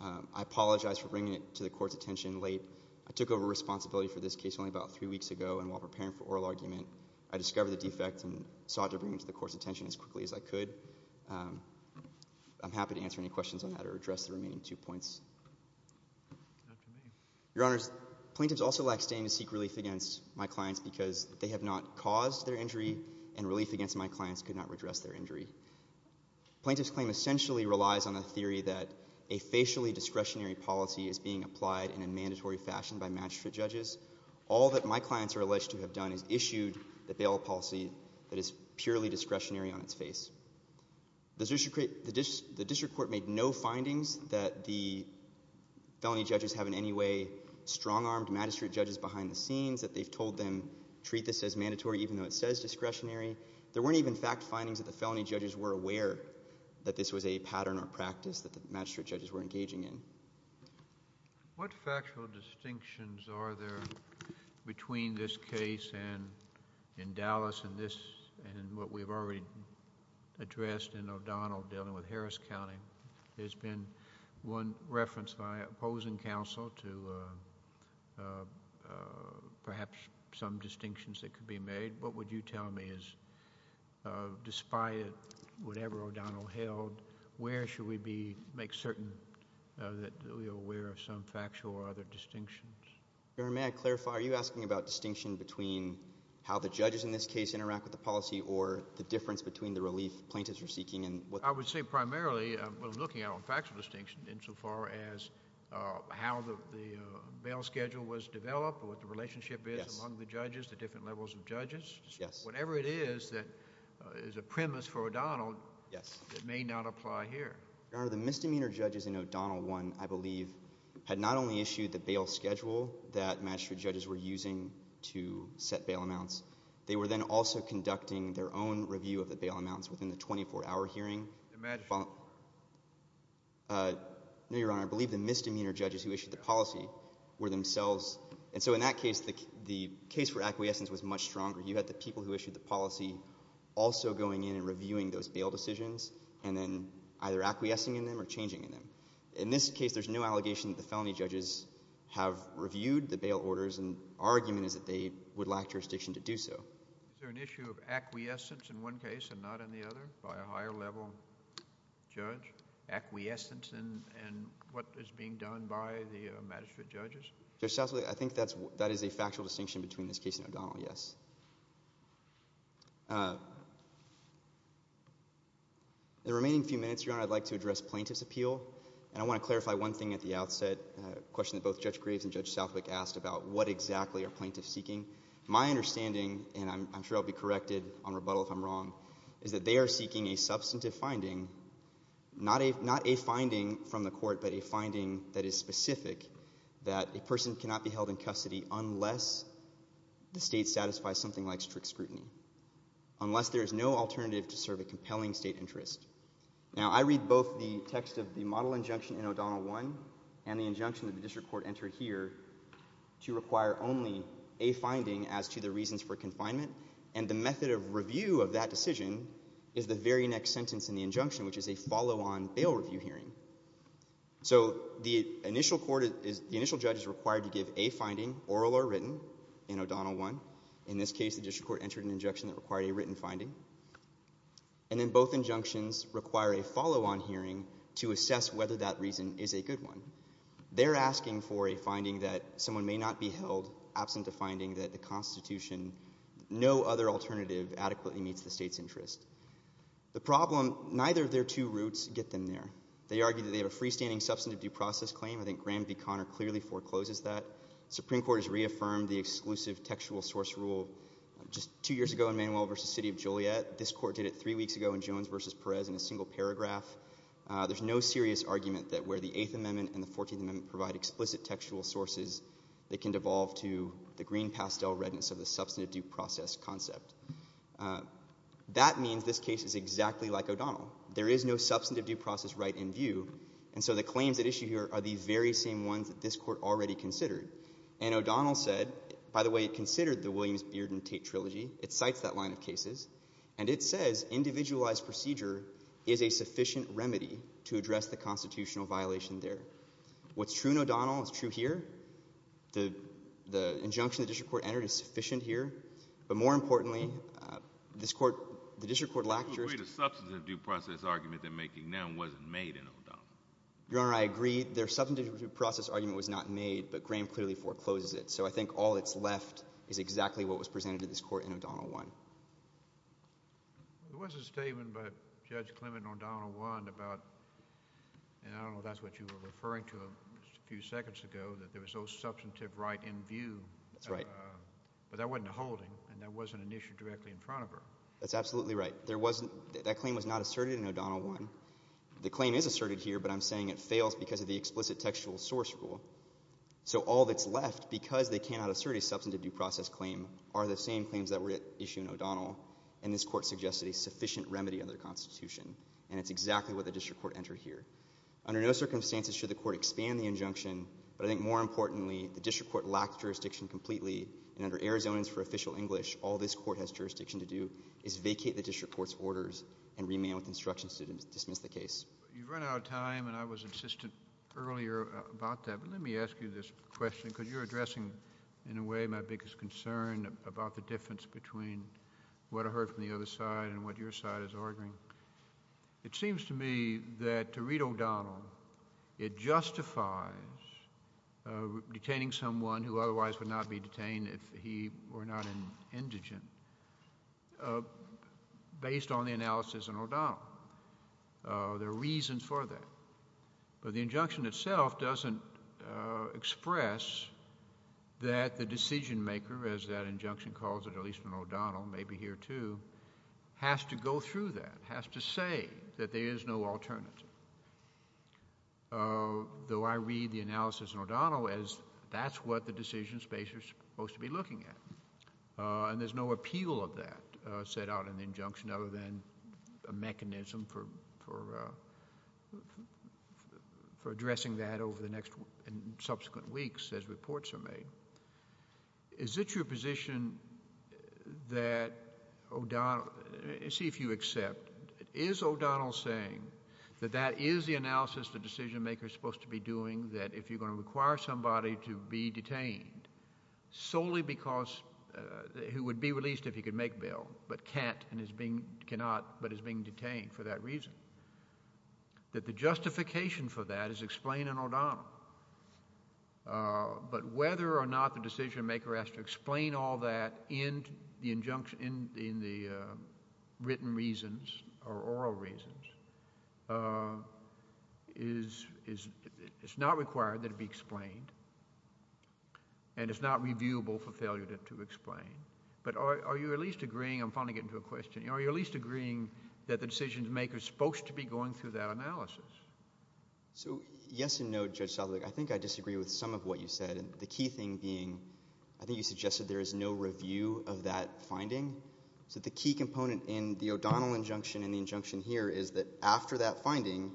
I apologize for bringing it to the court's attention late. I took over responsibility for this case only about three weeks ago and while preparing for oral argument, I discovered the defect and sought to bring it to the court's attention as quickly as I could. I'm happy to answer any questions on that or address the remaining two points. Your Honors, plaintiffs also lack standing to seek relief against my clients because they have not caused their injury and relief against my clients could not redress their injury. Plaintiffs' claim essentially relies on a theory that a facially discretionary policy is being applied in a mandatory fashion by magistrate judges. All that my clients are alleged to have done is issued the bail policy that is purely discretionary on its face. The district court made no findings that the felony judges have in any way strong-armed magistrate judges behind the scenes, that they've told them, treat this as mandatory even though it says discretionary. There weren't even fact findings that the felony judges were aware that this was a pattern or practice that the magistrate judges were engaging in. What factual distinctions are there between this case in Dallas and what we've already addressed in O'Donnell dealing with Harris County? There's been one reference by opposing counsel to perhaps some distinctions that could be made. What would you tell me is despite whatever O'Donnell held, where should we make certain that we are aware of some factual or other distinctions? Your Honor, may I clarify? Are you asking about distinction between how the judges in this case interact with the policy or the difference between the relief plaintiffs are seeking and what... I would say primarily what I'm looking at on factual distinction insofar as how the bail schedule was developed or what the relationship is among the judges, the different levels of judges? Whatever it is that is a premise for O'Donnell that may not apply here. Your Honor, the misdemeanor judges in O'Donnell 1, I believe, had not only issued the bail schedule that magistrate judges were using to set bail amounts, they were then also conducting their own review of the bail amounts within the 24-hour hearing. No, Your Honor. I believe the misdemeanor judges who issued the policy were themselves... and so in that case, the case for acquiescence was much stronger. You had the people who issued the policy also going in and reviewing those bail decisions and then either acquiescing in them or changing in them. In this case, there's no allegation that the felony judges have reviewed the bail orders and our argument is that they would lack jurisdiction to do so. Is there an issue of acquiescence in one case and not in the other by a higher level judge? Acquiescence in what is being done by the magistrate judges? I think that is a factual distinction between this case and O'Donnell, yes. The remaining few minutes, Your Honor, I'd like to address plaintiff's appeal and I want to clarify one thing at the outset. A question that both Judge Graves and Judge Southwick asked about what exactly are plaintiffs seeking. My understanding and I'm sure I'll be corrected on rebuttal if I'm wrong is that they are seeking a substantive finding not a finding from the court but a finding that is specific that a person cannot be held in custody unless the state satisfies something like strict scrutiny unless there is no alternative to serve a compelling state interest. Now I read both the text of the model injunction in O'Donnell 1 and the injunction that the district court entered here to require only a finding as to the reasons for confinement and the method of review of that decision is the very next sentence in the injunction which is a follow-on bail review hearing. So the initial court, the initial judge is required to give a finding oral or written in O'Donnell 1. In this case the district court entered an injunction that required a written finding. And then both injunctions require a follow-on hearing to assess whether that reason is a good one. They're asking for a finding that someone may not be held absent a finding that the Constitution no other alternative adequately meets the state's interest. The problem, neither of their two routes get them there. They argue that they have a freestanding substantive due process claim I think Graham v. Conner clearly forecloses that. Supreme Court has reaffirmed the exclusive textual source rule just two years ago in Manuel v. City of Joliet. This court did it three weeks ago in Jones v. Perez in a single paragraph. There's no serious argument that where the Eighth Amendment and the Fourteenth Amendment provide explicit textual sources they can devolve to the green pastel redness of the substantive due process concept. That means this case is exactly like O'Donnell. There is no substantive due process right in view and so the claims at issue here are the very same ones that this court already considered. And O'Donnell said, by the way it considered the And it says individualized procedure is a sufficient remedy to address the constitutional violation there. What's true in O'Donnell is true here. The injunction the district court entered is sufficient here. But more importantly, this court the district court lectures Your Honor, I agree. Their substantive due process argument was not made, but Graham clearly forecloses it. So I think all that's left is exactly what was There was a statement by Judge Clement in O'Donnell 1 about, and I don't know if that's what you were referring to a few seconds ago, that there was no substantive right in view. That's right. But that wasn't a holding and that wasn't an issue directly in front of her. That's absolutely right. That claim was not asserted in O'Donnell 1. The claim is asserted here, but I'm saying it fails because of the explicit textual source rule. So all that's left because they cannot assert a substantive due process claim are the same claims that were issued in O'Donnell. And this court suggested a sufficient remedy under the Constitution. And it's exactly what the district court entered here. Under no circumstances should the court expand the injunction, but I think more importantly the district court lacked jurisdiction completely. And under Arizonans for Official English, all this court has jurisdiction to do is vacate the district court's orders and remain with instructions to dismiss the case. You've run out of time and I was insistent earlier about that, but let me ask you this question because you're addressing, in a way, my biggest concern about the difference between what I heard from the other side and what your side is arguing. It seems to me that to read O'Donnell, it justifies detaining someone who otherwise would not be detained if he were not an indigent based on the analysis in O'Donnell. There are reasons for that. But the injunction itself doesn't express that the decision maker, as that injunction calls it, at least in O'Donnell, maybe here too, has to go through that, has to say that there is no alternative. Though I read the analysis in O'Donnell as that's what the decision space is supposed to be looking at. And there's no appeal of that set out in the injunction other than a mechanism for addressing that over the next and subsequent weeks as reports are made. Is it your position that O'Donnell see if you accept, is O'Donnell saying that that is the analysis the decision maker is supposed to be doing that if you're going to require somebody to be detained solely because he would be released if he could make bail but cannot but is being detained for that reason? That the justification for that is explained in O'Donnell. But whether or not the decision maker has to explain all that in the written reasons or oral reasons is not required that it be explained and it's not reviewable for failure to explain. But are you at least agreeing, I'm finally getting to a question, are you at least agreeing that the decision maker is supposed to be going through that analysis? So yes and no, Judge Southerly. I think I disagree with some of what you said. The key thing being, I think you suggested there is no review of that finding. So the key component in the O'Donnell injunction and the injunction here is that after that finding,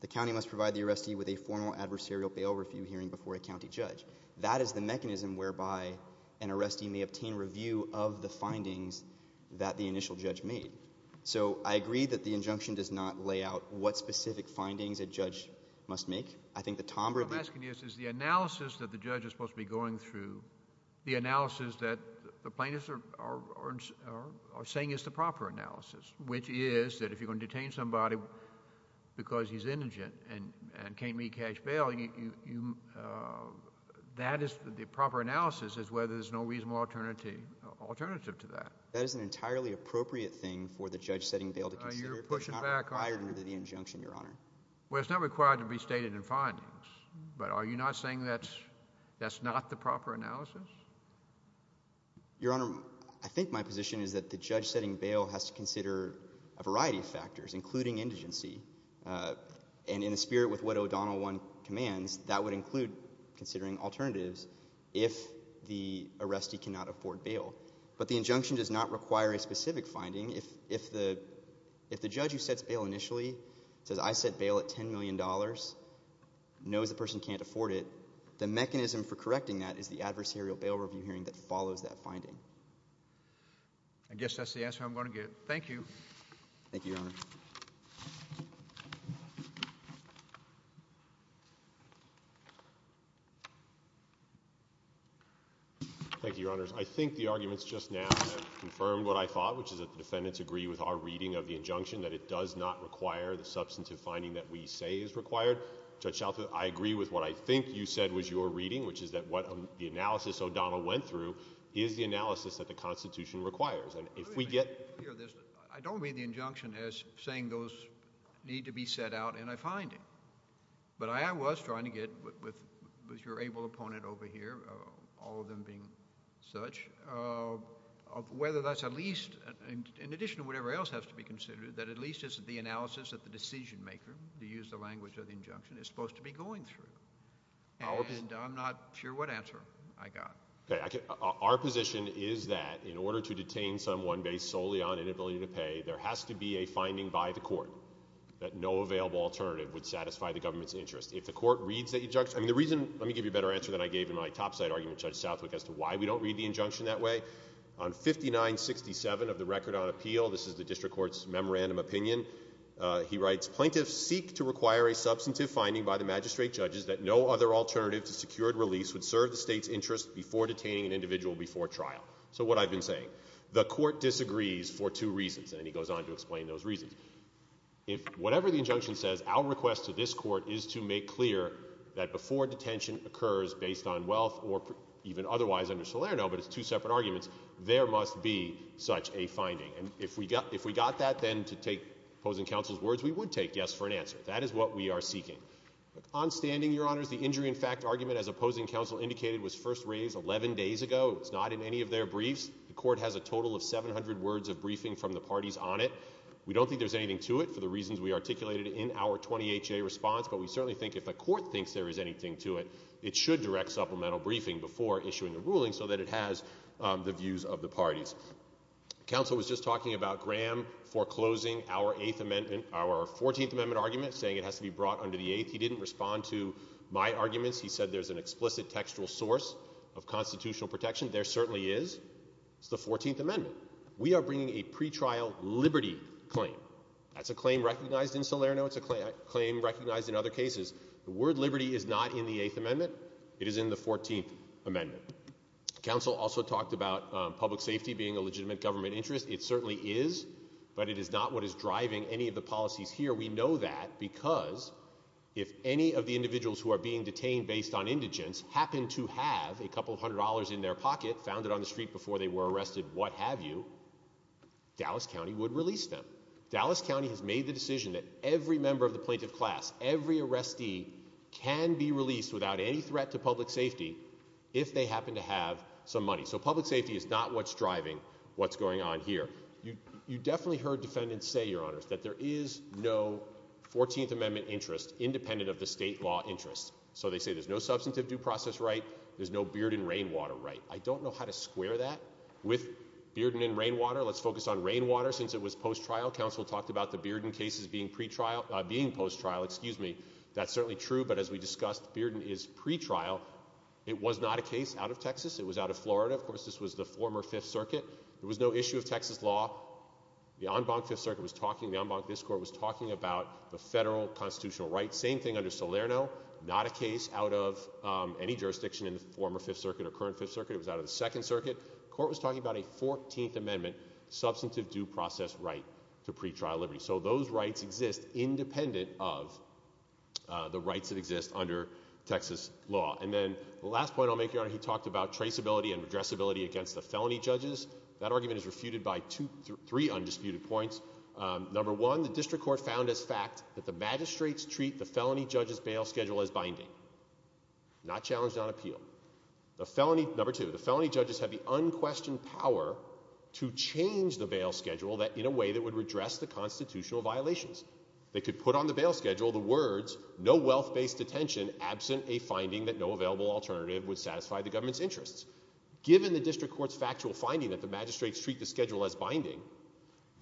the county must provide the arrestee with a formal adversarial bail review hearing before a county judge. That is the mechanism whereby an arrestee may obtain review of the findings that the initial judge made. So I agree that the injunction does not lay out what specific findings a judge must make. What I'm asking is, is the analysis that the judge is supposed to be going through, the analysis that the plaintiffs are saying is the proper analysis, which is that if you're going to detain somebody because he's indigent and can't make cash bail, that is the proper analysis is whether there's no reasonable alternative to that. That is an entirely appropriate thing for the judge setting bail to consider if it's not required under the injunction, Your Honor. Well, it's not required to be stated in findings, but are you not saying that's not the proper analysis? Your Honor, I think my position is that the judge setting bail has to consider a variety of factors, including indigency, and in the spirit with what O'Donnell I commands, that would include considering alternatives if the arrestee cannot afford bail. But the injunction does not require a specific finding. If the judge who sets bail initially says, I set bail at $10 million, knows the person can't afford it, the mechanism for correcting that is the adversarial bail review hearing that follows that finding. I guess that's the answer I'm going to get. Thank you. Thank you, Your Honor. Thank you, Your Honors. I think the arguments just now have confirmed what I thought, which is that the defendants agree with our reading of the injunction that it does not require the substantive finding that we say is required. Judge Shelter, I agree with what I think you said was your reading, which is that what the analysis O'Donnell went through is the analysis that the Constitution requires. I don't read the injunction as saying those need to be set out in a finding. But I was trying to get, with your able opponent over here, all of them being such, whether that's at least, in addition to whatever else has to be considered, that at least it's the analysis that the decision maker, to use the language of the injunction, is supposed to be going through. And I'm not sure what answer I got. Our position is that in order to detain someone based solely on inability to pay, there has to be a finding by the court that no available alternative would satisfy the government's interest. If the court reads the injunction... Let me give you a better answer than I gave in my topside argument, Judge Southwick, as to why we don't read the injunction that way. On 5967 of the Record on Appeal, this is the district court's memorandum opinion, he writes, So what I've been saying, the court disagrees for two reasons, and then he goes on to explain those reasons. Whatever the injunction says, our request to this court is to make clear that before detention occurs based on wealth, or even otherwise under Salerno, but it's two separate arguments, there must be such a finding. And if we got that, then, to take opposing counsel's words, we would take yes for an answer. That is what we are seeking. On standing, Your Honors, the injury in fact argument, as opposing counsel indicated, was first raised 11 days ago. It's not in any of their briefs. The court has a total of 700 words of briefing from the parties on it. We don't think there's anything to it for the reasons we articulated in our 20HA response, but we certainly think if the court thinks there is anything to it, it should direct supplemental briefing before issuing a ruling so that it has the views of the parties. Counsel was just talking about Graham foreclosing our 14th Amendment argument, saying it has to be brought under the 8th. He didn't respond to my arguments. He said there's an explicit textual source of constitutional protection. There certainly is. It's the 14th Amendment. We are bringing a pretrial liberty claim. That's a claim recognized in Salerno. It's a claim recognized in other cases. The word liberty is not in the 8th Amendment. It is in the 14th Amendment. Counsel also talked about public safety being a legitimate government interest. It certainly is, but it is not what is driving any of the policies here. We know that because if any of the individuals who are being detained based on indigence happen to have a couple hundred dollars in their pocket, found it on the street before they were arrested, what have you, Dallas County would release them. Dallas County has made the decision that every member of the plaintiff class, every arrestee, can be released without any threat to public safety if they happen to have some money. So public safety is not what's driving what's going on here. You definitely heard defendants say, Your Honors, that there is no 14th Amendment interest independent of the state law interest. So they say there's no substantive due process right, there's no Bearden Rainwater right. I don't know how to square that with Bearden and Rainwater. Let's focus on Rainwater since it was post-trial. Counsel talked about the Bearden cases being post-trial. That's certainly true, but as we discussed, Bearden is pre-trial. It was not a case out of Texas. It was out of Florida. Of course, this was the former 5th Circuit. There was no issue of Texas law. The en banc 5th Circuit was talking about the federal constitutional rights. Same thing under Salerno. Not a case out of any jurisdiction in the former 5th Circuit or current 5th Circuit. It was out of the 2nd Circuit. Court was talking about a 14th Amendment substantive due process right to pretrial liberty. So those rights exist independent of the rights that exist under Texas law. And then the last point I'll make, Your Honor, he talked about traceability and redressability against the felony judges. That argument is refuted by three undisputed points. Number one, the district court found as fact that the magistrates treat the felony judges' bail schedule as binding. Not challenged on appeal. Number two, the felony judges have the unquestioned power to change the bail schedule in a way that would redress the constitutional violations. They could put on the bail schedule the words, no wealth-based detention absent a finding that no available alternative would satisfy the government's interests. Given the district court's factual finding that the magistrates treat the schedule as binding,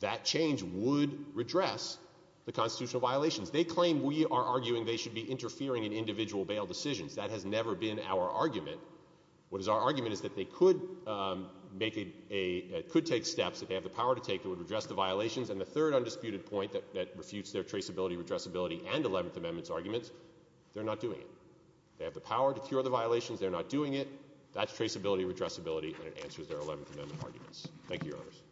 that change would redress the constitutional violations. They claim we are arguing they should be interfering in individual bail decisions. That has never been our argument. What is our argument is that they could take steps, that they have the power to take, that would redress the violations. And the third undisputed point that refutes their traceability, redressability, and 11th Amendment arguments, they're not doing it. They have the power to cure the violations, they're not doing it. That's traceability, redressability, and it answers their 11th Amendment arguments. Thank you, Your Honors.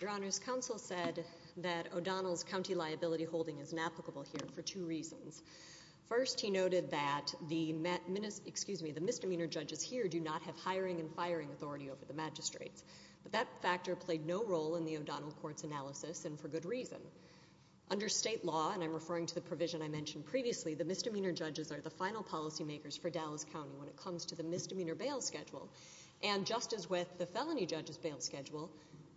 Your Honors, counsel said that O'Donnell's county liability holding is inapplicable here for two reasons. First, he noted that the misdemeanor judges here do not have hiring and firing authority over the magistrates. But that factor played no role in the O'Donnell court's analysis, and for good reason. Under state law, and I'm referring to the provision I mentioned previously, the misdemeanor judges are the final policymakers for Dallas County when it comes to the misdemeanor bail schedule. And just as with the felony judge's bail schedule,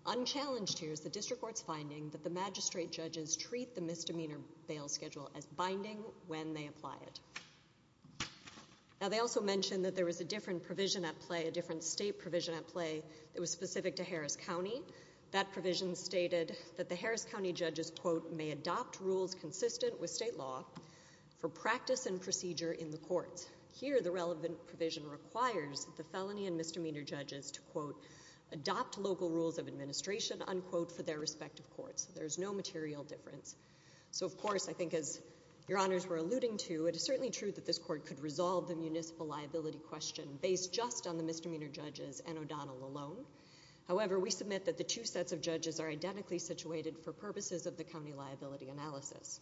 unchallenged here is the district court's finding that the magistrate judges treat the misdemeanor bail schedule as binding when they apply it. Now, they also mentioned that there was a different provision at play, a different state provision at play that was specific to Harris County. That provision stated that the Harris County judges quote, may adopt rules consistent with state law for practice and procedure in the courts. Here, the relevant provision requires the felony and misdemeanor judges to quote, adopt local rules of administration unquote for their respective courts. There is no material difference. So of course, I think as your honors were alluding to, it is certainly true that this court could resolve the municipal liability question based just on the misdemeanor judges and O'Donnell alone. However, we submit that the two sets of judges are identically situated for purposes of the county liability analysis.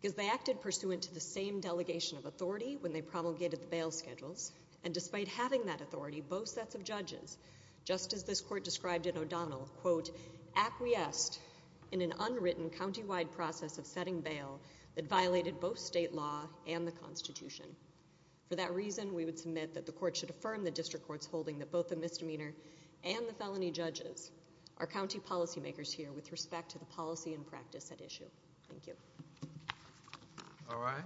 Because they acted pursuant to the same delegation of authority when they promulgated the bail schedules, and despite having that authority, both sets of judges, just as this court described in O'Donnell, quote, acquiesced in an unwritten countywide process of setting bail that violated both state law and the Constitution. For that reason, we would submit that the court should affirm the district court's holding that both the misdemeanor and the felony judges are county policymakers here with respect to the policy and practice at issue. Thank you. All right.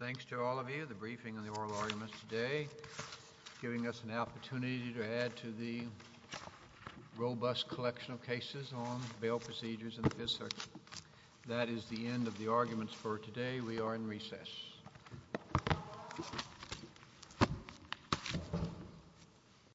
Thanks to all of you. The briefing and the oral arguments today giving us an opportunity to add to the robust collection of cases on bail procedures in the Fifth Circuit. That is the end of the arguments for today. We are in recess.